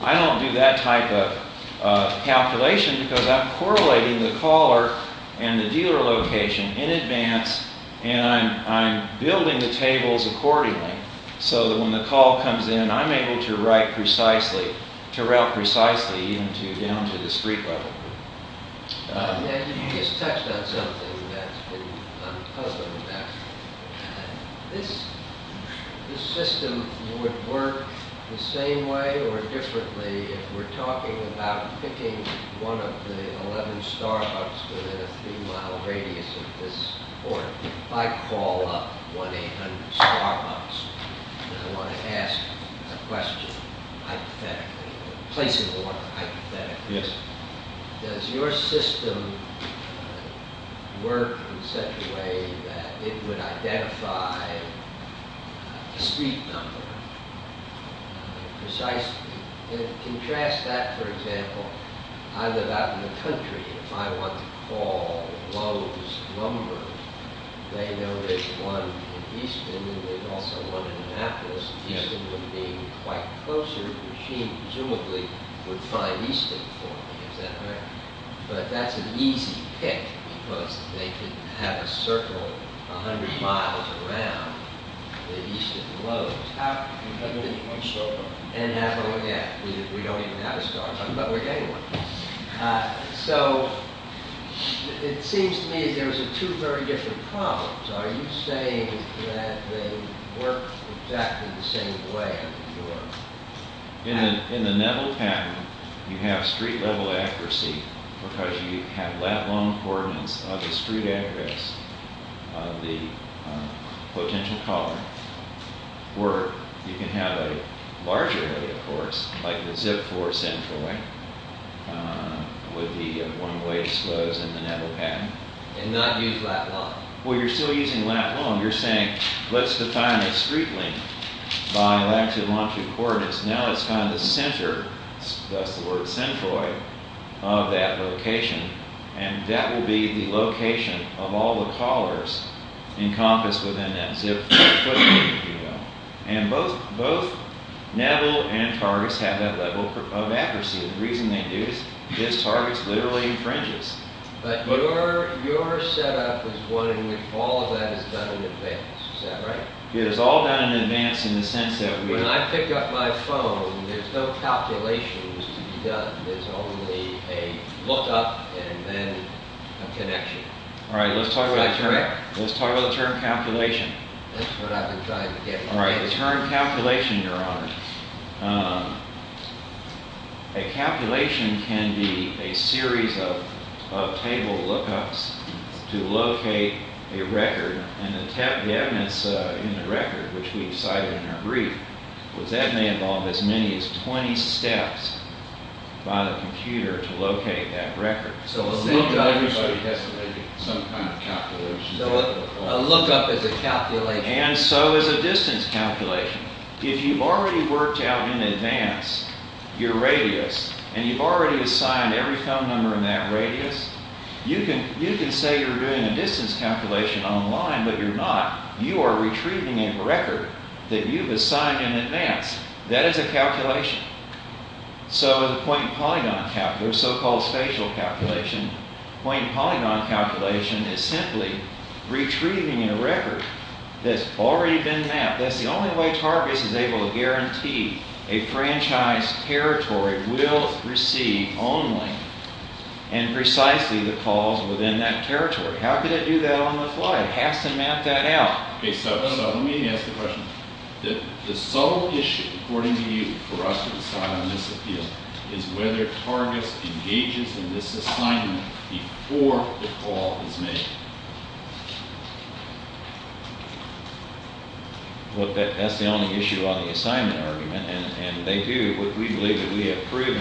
I don't do that type of calculation because I'm correlating the caller and the dealer location in advance, and I'm building the tables accordingly so that when the call comes in, I'm able to write precisely, to route precisely down to the street level. Mr. Nettle, you just touched on something that I'm puzzled about. This system would work the same way or differently if we're talking about picking one of the 11 Starbucks with a three mile radius of foot support. If I call up 1-800-STARBUCKS, and I want to ask a question hypothetically, the place is a lot more hypothetical. Yes. Does your system work in such a way that it would identify the street number precisely? Can you contrast that, for example, either that or the country. If I want to call Loews, Lumber, they would pick one in the eastern, and they'd also look at that. That would suggest that they would be quite closer to the machine, presumably, with time. But that's an easy thing. But they could have a circle 100 miles around the eastern Loews. And now we're going to have to deal with the other neighborhood. So it seems to me there's two very different problems. Are you saying that they work exactly the same way? In the Nettle pattern, you have street level accuracy because you have that one coordinates of the street You can have a larger area, of course, like the Zip 4 centroid, would be the one way to show us in the Nettle pattern. And then I'm using lat and long. Well, you're still using lat and long. You're saying, let's define it streetly by latitude and longitude coordinates. Now it's found the center, that's the word centroid, of that location. And that will be the location of all the callers encompassed within that Zip 4 centroid. And both Nettle and Targis have that level of accuracy. The reason they do is because Targis literally infringes. But your setup is one in which all of that is done in advance. Is that right? It is all done in advance in the sense that we When I pick up my phone, there's no calculations to be done. There's only a hookup and then a connection. All right, let's talk about the term calculation. The term calculation, your honor, a calculation can be a series of table lookups to locate a record. And the evidence in the record, which we decided in our brief, that may involve as many as 20 steps by the computer to locate that record. So a lookup is a calculation. So a lookup is a calculation. And so is a distance calculation. If you've already worked out in advance your radius, and you've already assigned every phone number in that radius, you can say you're doing a distance calculation online, but you're not. You are retrieving a record that you've assigned in advance. That is a calculation. So the point polygon calculation, the so-called spatial calculation, point polygon calculation is simply retrieving a record that's already been mapped. That's the only way TARGIS is able to guarantee a franchise territory will receive only and precisely the calls within that territory. How can it do that on the fly? It has to map that out. OK, so let me ask the question. The sole issue, according to you, for us to decide on this is whether TARGIS engages in this assignment before the call is made. Well, that's the only issue on the assignment argument. And they do. What we believe is we have proof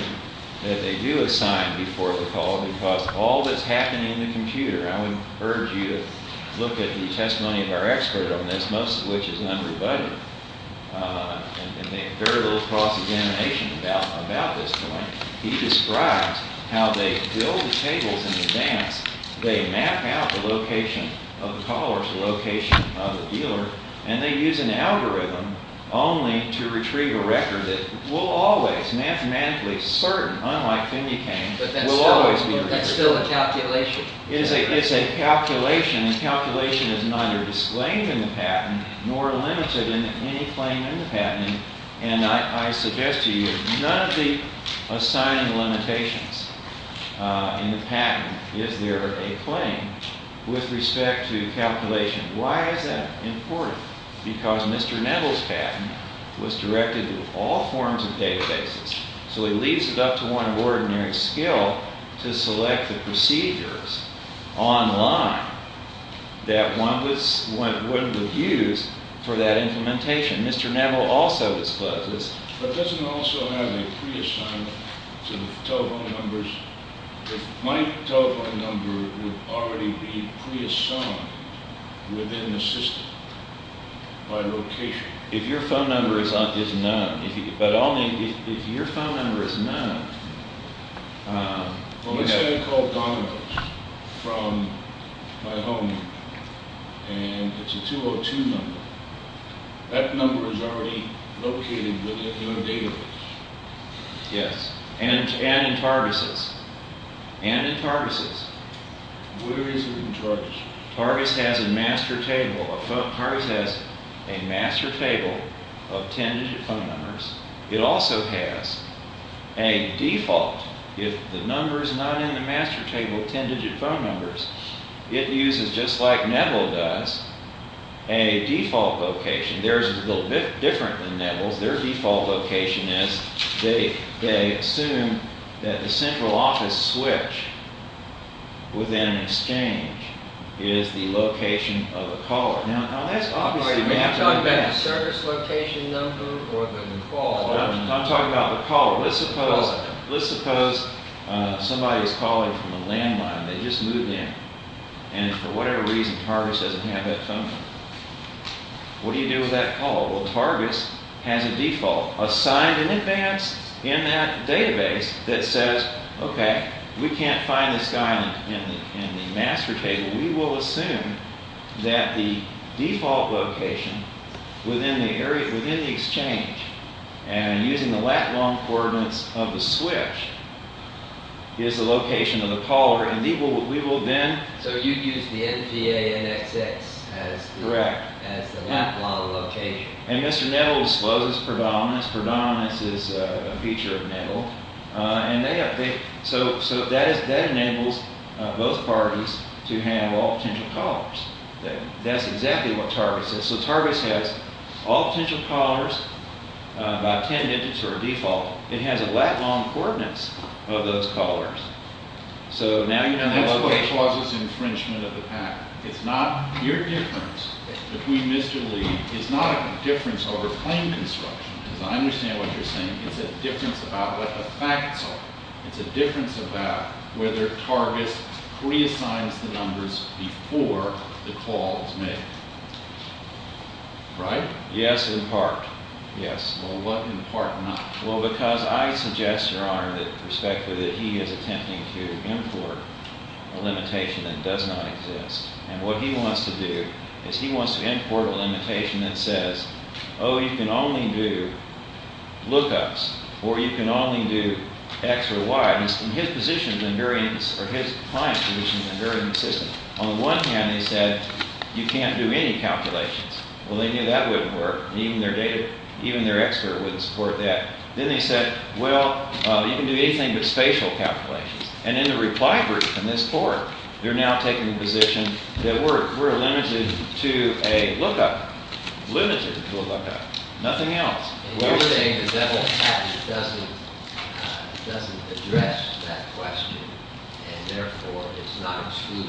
that they do assign before the call. Because all that's happening in the computer, I would urge you to look at the testimony of our expert on this, most of which is an underbuddy. And there's a very little cross-examination about this point. He describes how they build the tables in advance. They map out the location of the caller's location of the dealer. And they use an algorithm only to retrieve a record that will always, mathematically certain, unlike candy canes, will always be a record. That's still a calculation. It's a calculation. And calculation is neither displaying in the patent nor limited in any claim in the patent. And I suggest to you, none of the assigned limitations in the patent is there a claim with respect to calculation. Why is that important? Because Mr. Neville's patent was directed to all forms of databases. So it leaves it up to one of ordinary skill to select the procedures online that one would use for that implementation. Mr. Neville also discussed this. But doesn't it also have to be pre-assigned to telephone numbers? My telephone number would already be pre-assigned within the system by rotation. If your phone number is up, it's not. But only if your phone number is not. Well, we have a telephone number from my home. And it's a 202 number. That number is already located within the database. Yes. And in Fardis's. And in Fardis's. Where is it in Fardis's? Fardis has a master table. Fardis has a master table of 10-digit phone numbers. It also has a default. If the number is not in the master table of 10-digit phone numbers, it uses, just like Neville does, a default location. Theirs is a little bit different than Neville. Their default location is they assume that the central office switch within Exchange is the location of the caller. Now, that's operating in advance. Is that a service location number or a default? I'm talking about the caller. Let's suppose somebody is calling from a landline. They just moved in. And for whatever reason, Fardis doesn't have that function. What do you do with that caller? Well, Fardis has a default assigned in advance in that database that says, OK, we will assume that the default location within the Exchange and using the lat-long coordinates of the switch is the location of the caller. And we will then? So it's used to see it as D-A-N-X-X. Correct. That's the lat-long of the location. And Mr. Neville's slogan is predominance. Predominance is a feature of Neville. So that enables both parties to have all potential callers. That's exactly what Fardis does. So Fardis has all potential callers by 10 digits for a default. It has lat-long coordinates of those callers. So now you can have all the choices and refinement of the pattern. It's not your difference. It's between Mr. Lee. It's not a difference over claim construction. I understand what you're saying. It's a difference about a fact. It's a difference about whether targets pre-assign the numbers before the call is made. Right? Yes, in part. Yes. Well, what in part not? Well, because I suggest, Your Honor, that he is attempting to import a limitation that does not exist. And what he wants to do is he wants to import a limitation that says, oh, you can only do look-ups, or you can only do x or y. And his position is very consistent. On one hand, he said, you can't do any calculations. Well, they knew that wouldn't work. Even their expert wouldn't support that. Then they said, well, you can do anything but spatial calculations. And in the reply group in this court, they're now taking the position that we're limited to a look-up. Limited to a look-up. Nothing else. What you're saying is that the patent doesn't address that question. And therefore, it's not true.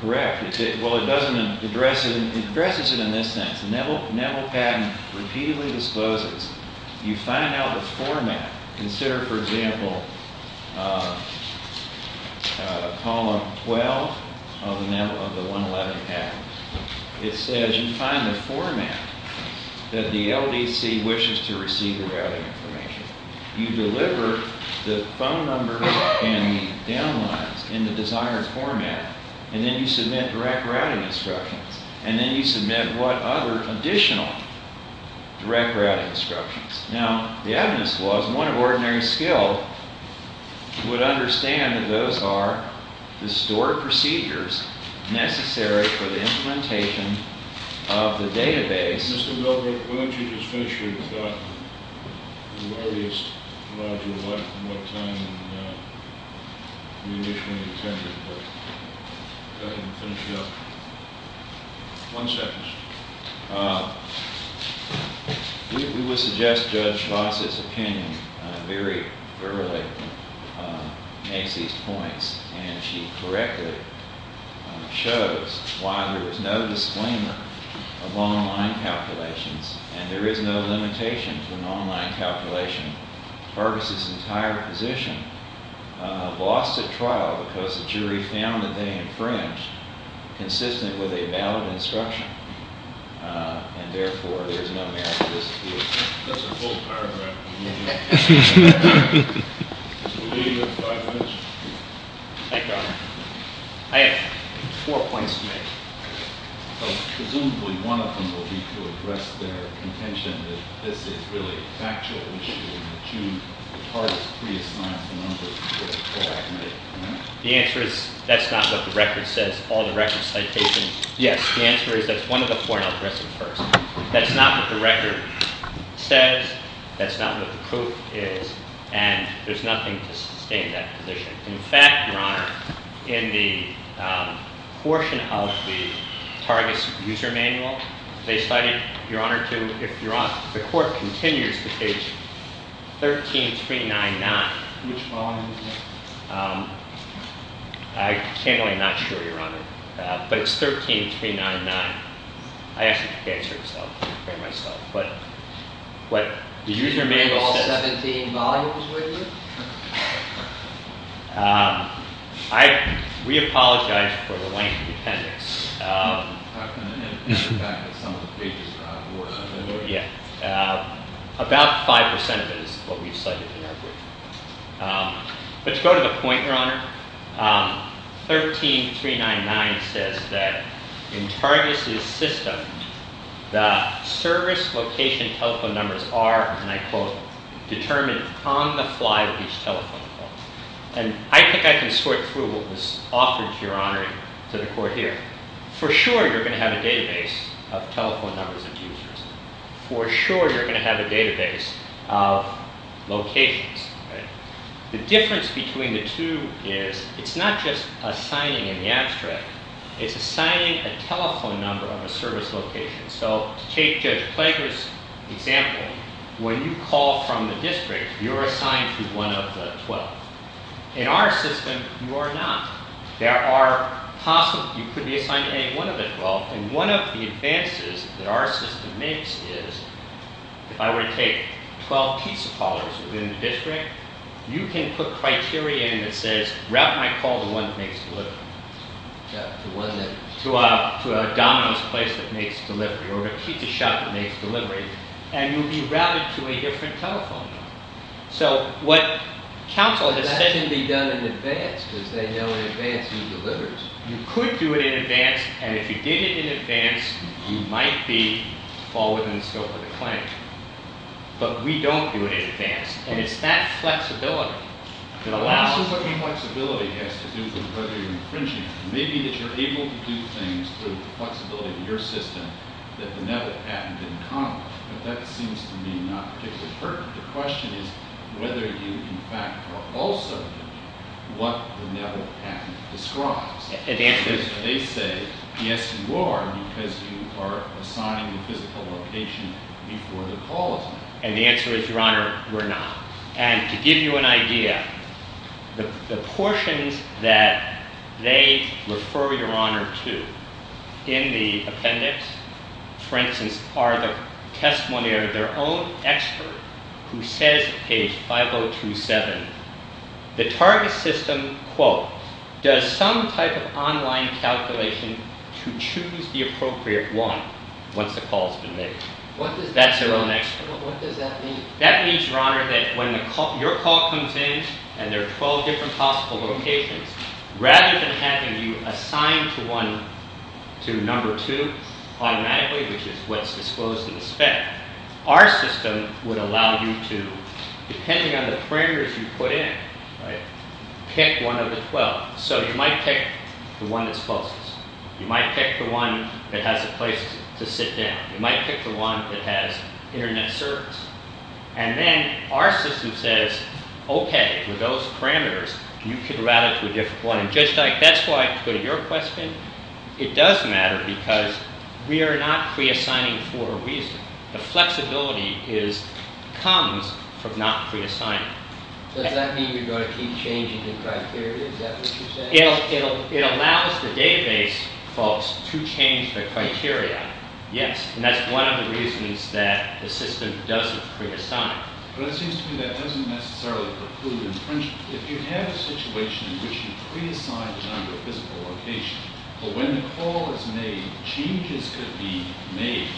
Correct. Well, it doesn't address it. It addresses it in this sense. The NETL patent repeatedly discloses. You find out the format. Consider, for example, column 12 of the NETL, of the 111 patent. It says, you find the format that the LVC wishes to receive the routing information. You deliver the phone number and the downline in the desired format. And then you submit direct routing instructions. And then you submit what other additional direct routing instructions. Now, the evidence clause, one of ordinary skill, would understand that those are the stored procedures necessary for the implementation of the database. Mr. Milgrove, why don't you just finish your talk. I'm worried it's going to be a lot more time than you initially intended. Go ahead and finish up. One second, sir. We would suggest Judge Box's opinion very early. Make these points. And she correctly shows why there is no disclaimer of long line calculations. And there is no limitation for long line calculations. Curtis's entire position lost the trial because the jury found that they infringed consistently with a valid instruction. And therefore, there's no way out of this dispute. That's a full paragraph. Mr. Milgrove, do you have a question? I do. I have four points to make. Presumably, one of them will be to address their intention that this dispute is a factual issue and that you, as part of the pre-explanatory process, should correct it. The answer is, that's not what the record says. All the records, citations, the answer is that's one of the four. That's not what the record says. That's not what the proof is. And there's nothing to sustain that position. In fact, Your Honor, in the portion policy, targets user manual, they cite, Your Honor, the court continues to state 13399. Which volume is that? I'm simply not sure, Your Honor. But it's 13399. I actually can't say it myself. But the user manual also doesn't say any volumes, does it? We apologize for the length of attendance. About 5% of it is what we cited in our brief. 13399 says that in targeted systems, the service location telephone numbers are, and I quote, determined on the fly with these telephone numbers. And I think I can sort through this often, Your Honor, to the court here. For sure, you're going to have a database of telephone numbers and users. For sure, you're going to have a database of locations. The difference between the two is, it's not just assigning in the abstract. It's assigning a telephone number of a service location. So take this example. When you call from the districts, you're assigned to one of the 12. In our system, you are not. There are possibly, you could be assigned to any one of the 12. And one of the advances that our system makes is, if I were to take 12 piece calls within the district, you can put criteria in that says, route my call to one of Nate's delivery, to a domino's place of Nate's delivery, or a tiki shop of Nate's delivery, and you'd be routed to a different telephone number. So what counsel did, that doesn't need to be done in advance, because they know in advance who delivers. You could do it in advance, and if you did it in advance, you might be all within the scope of the claim. But we don't do it in advance. And it's that flexibility. It allows you whatever flexibility you have to do some further infringement. Maybe if you're able to keep things to the flexibility of your system, that would never have happened in the past. But that seems to me not particularly pertinent. The question is, whether you can capture also what would never have happened in the past. And the answer is, they say, yes, you are, because you are assigned a physical location before the call. And the answer is, your honor, we're not. And to give you an idea, the portion that they refer your honor to in the appendix, for instance, are the testimony of their own expert who said in case 5027, the target system, quote, does some type of online calculation to choose the appropriate one once the call is made. What does that mean? That means, your honor, that when your call comes in and there are 12 different possible locations, rather than having you assigned to one, to number two, automatically, which is what's disclosed in the spec, our system would allow you to, depending on the parameters you put in, pick one of the 12. So you might pick the one that's closest. You might pick the one that has a place to sit down. You might pick the one that has internet service. And then our system says, OK, for those parameters, you can route it to a different one. And just like that's why I included your question, it does matter, because we are not pre-assigning for a reason. The flexibility comes from not pre-assigning. Does that mean you're going to keep changing the criteria? Is that what you're saying? It allows the database folks to change their criteria, yes. And that's one of the reasons that the system doesn't pre-assign. But it seems to me that doesn't necessarily preclude infringement. If you have a situation which you pre-assign to another physical location, but when the call is made, the change is to be made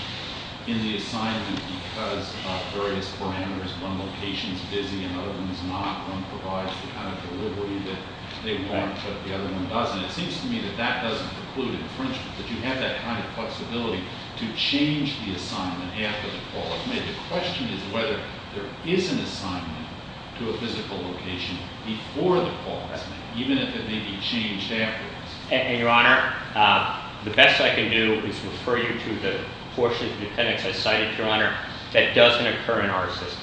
in the assignment because of various parameters. One location is busy. Another one is not. One provides the kind of delivery that they want, but the other one doesn't. It seems to me that that doesn't preclude infringement, that you have that kind of flexibility to change the assignment after the call is made. The question is whether there is an assignment to a physical location before the call, even if it may be changed after. Your Honor, the best I can do is refer you to the portion of the appendix I cited, Your Honor, that doesn't occur in our system.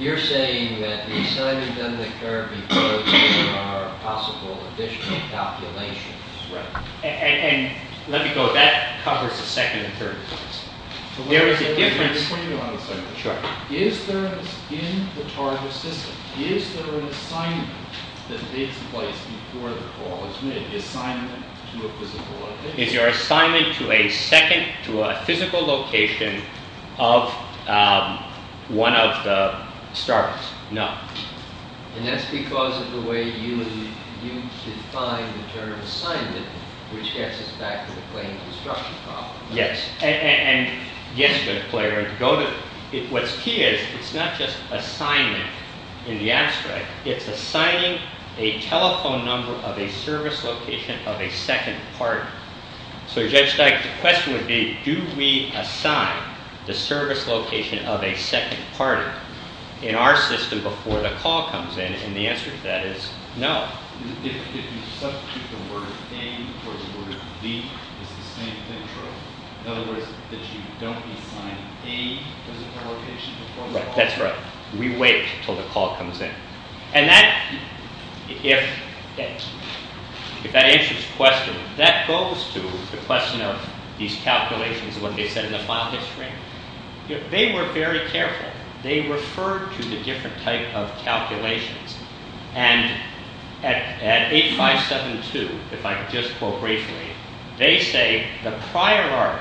You're saying that the assignments under the care of the court are possible additional calculations. Right. And let me go back. That covers the second and third case. There is a difference. Is there in the target system, is there an assignment that is placed before the call is made? Is the assignment to a physical location? If you're assigning to a second, to a physical location, of one of the starts, no. And that's because of the way you define the term assignment, which gets us back to the claim of the structure problem. Yes. And yes, Mr. Clayton, what's key is, it's not just assigning in the abstract, it's assigning a telephone number of a service location of a second party. So it gets back to the question of, do we assign the service location of a second party in our system before the call comes in? And the answer to that is no. If you substitute the word A before the word B, in other words, if you don't assign A to the location before the call comes in. That's right. We wait until the call comes in. And that, if that answers the question, that goes to the question of these calculations when they've been in the final stream. If they were very careful, they referred to the different type of calculations. And at 8572, if I could just quote briefly, they say, the prior art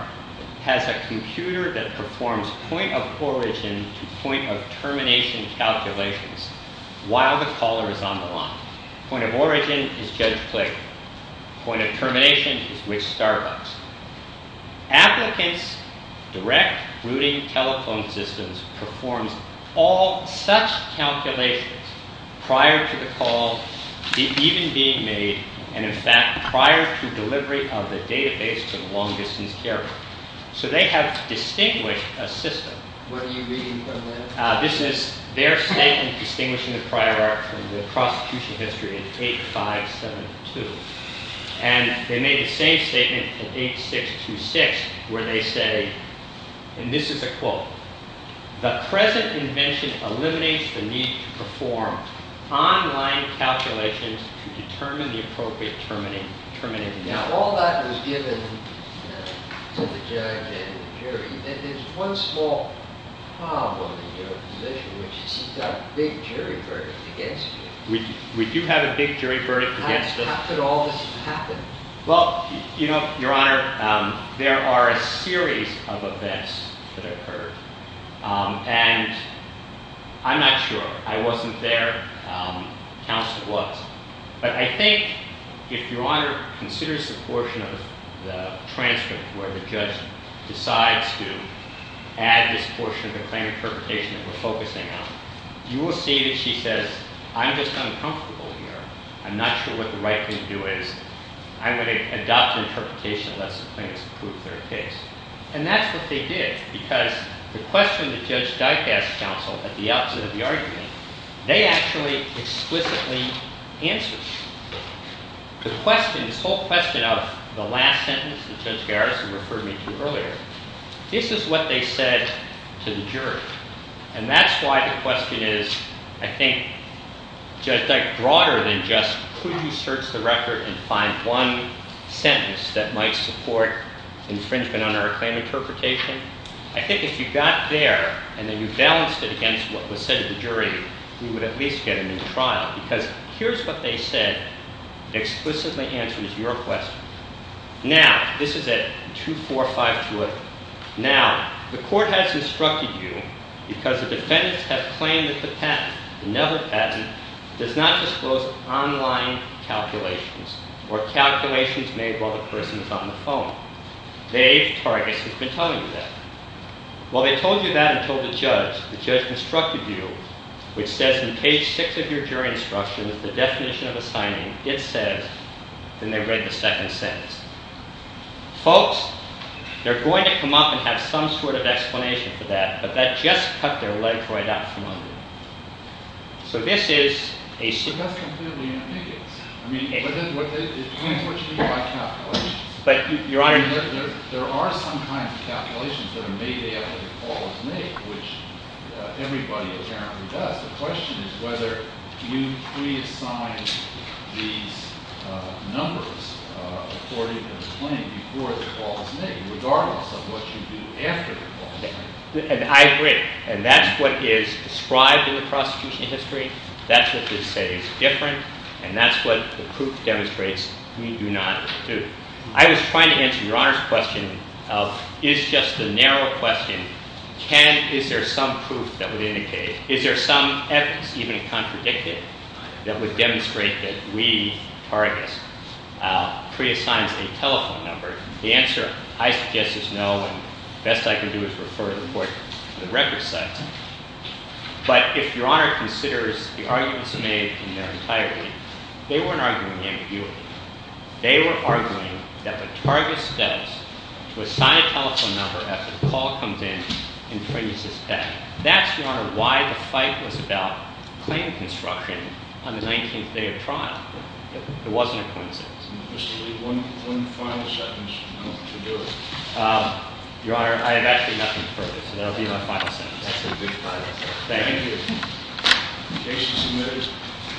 has a computer that performs point of origin to point of termination calculations while the caller is on the line. Point of origin is just Clayton. Point of termination is with Starbucks. Applicants, direct routing telephone systems, perform all such calculations prior to the call, even being made. And in fact, prior to delivery of the database to the long distance carrier. So they have distinguished a system. What are you reading from this? This is their statement distinguishing the prior art from the prosecution history in 8572. And they made the same statement in 8626 where they say, and this is a quote, the present invention eliminates the need to perform online calculations to determine the appropriate termination. Now, all that was given to the jury. And there's one small problem with their position, which is he's got a big jury verdict against him. We do have a big jury verdict against him. How could all this just happen? Well, you know, Your Honor, there are a series of events that occurred. And I'm not sure. I wasn't there. Counsel was. But I think if Your Honor considers the portion of the transcript where the judge decides to add this portion of the plaintiff's presentation that we're focusing on, you will see that she says, I'm just uncomfortable here. I'm not sure what the right thing to do is. I'm going to adopt the interpretation of that subpoena to prove their case. And that's what they did. Because the question that Judge Geithas counseled at the outset of the argument, they actually explicitly answered. The question, the sole question of the last sentence that Judge Garrison referred me to earlier, this is what they said to the jury. And that's why the question is, I think, broader than just could we search the record and find one sentence that might support infringement under a claim interpretation. I think if you got there and then you balanced it against what was said to the jury, we would at least get a new trial. Because here's what they said that explicitly answers your question. Now, this is at 2452. Now, the court has instructed you, because the defendant has claimed that the patent, the never patent, does not disclose online calculations or calculations made while the person is on the phone. They target the contemplative test. Well, they told you that and told the judge. The judge instructed you. It says in page six of your jury instruction that the definition of the timing is said when they read the second sentence. Folks, they're going to come up and have some sort of explanation for that. But that's just tucked their letter right out in front of them. So this is a suggestion. But that's completely inapplicable. I mean, it can't be achieved without calculations. But your honor, there are some kinds of calculations that are made after the call is made, which everybody apparently does. The question is whether you pre-assign the numbers according to the claim before the call is made, regardless of what you do after the call is made. And I agree. And that's what is described in the prosecution history. That's what they say is different. And that's what the proof demonstrates. We do not have the truth. I was trying to answer your honor's question of is just the narrow question, is there some proof that will indicate it? Is there some evidence, even if it's unpredicted, that would demonstrate that we are at risk pre-assigning the telephone number? The answer, I guess, is no. The best I could do is refer it to the record setter. But if your honor considers the arguments made in the entire case, they weren't arguing anything. They were arguing that the target setter would assign a telephone number after the call comes in until you suspect. That's, your honor, why the fight was about claim construction on the 19th day of trial. It wasn't a coincidence. Mr. Lee, one final question. I don't know if you want to do it. Your honor, I have actually nothing further. And that will be my final question. Thank you. Thank you.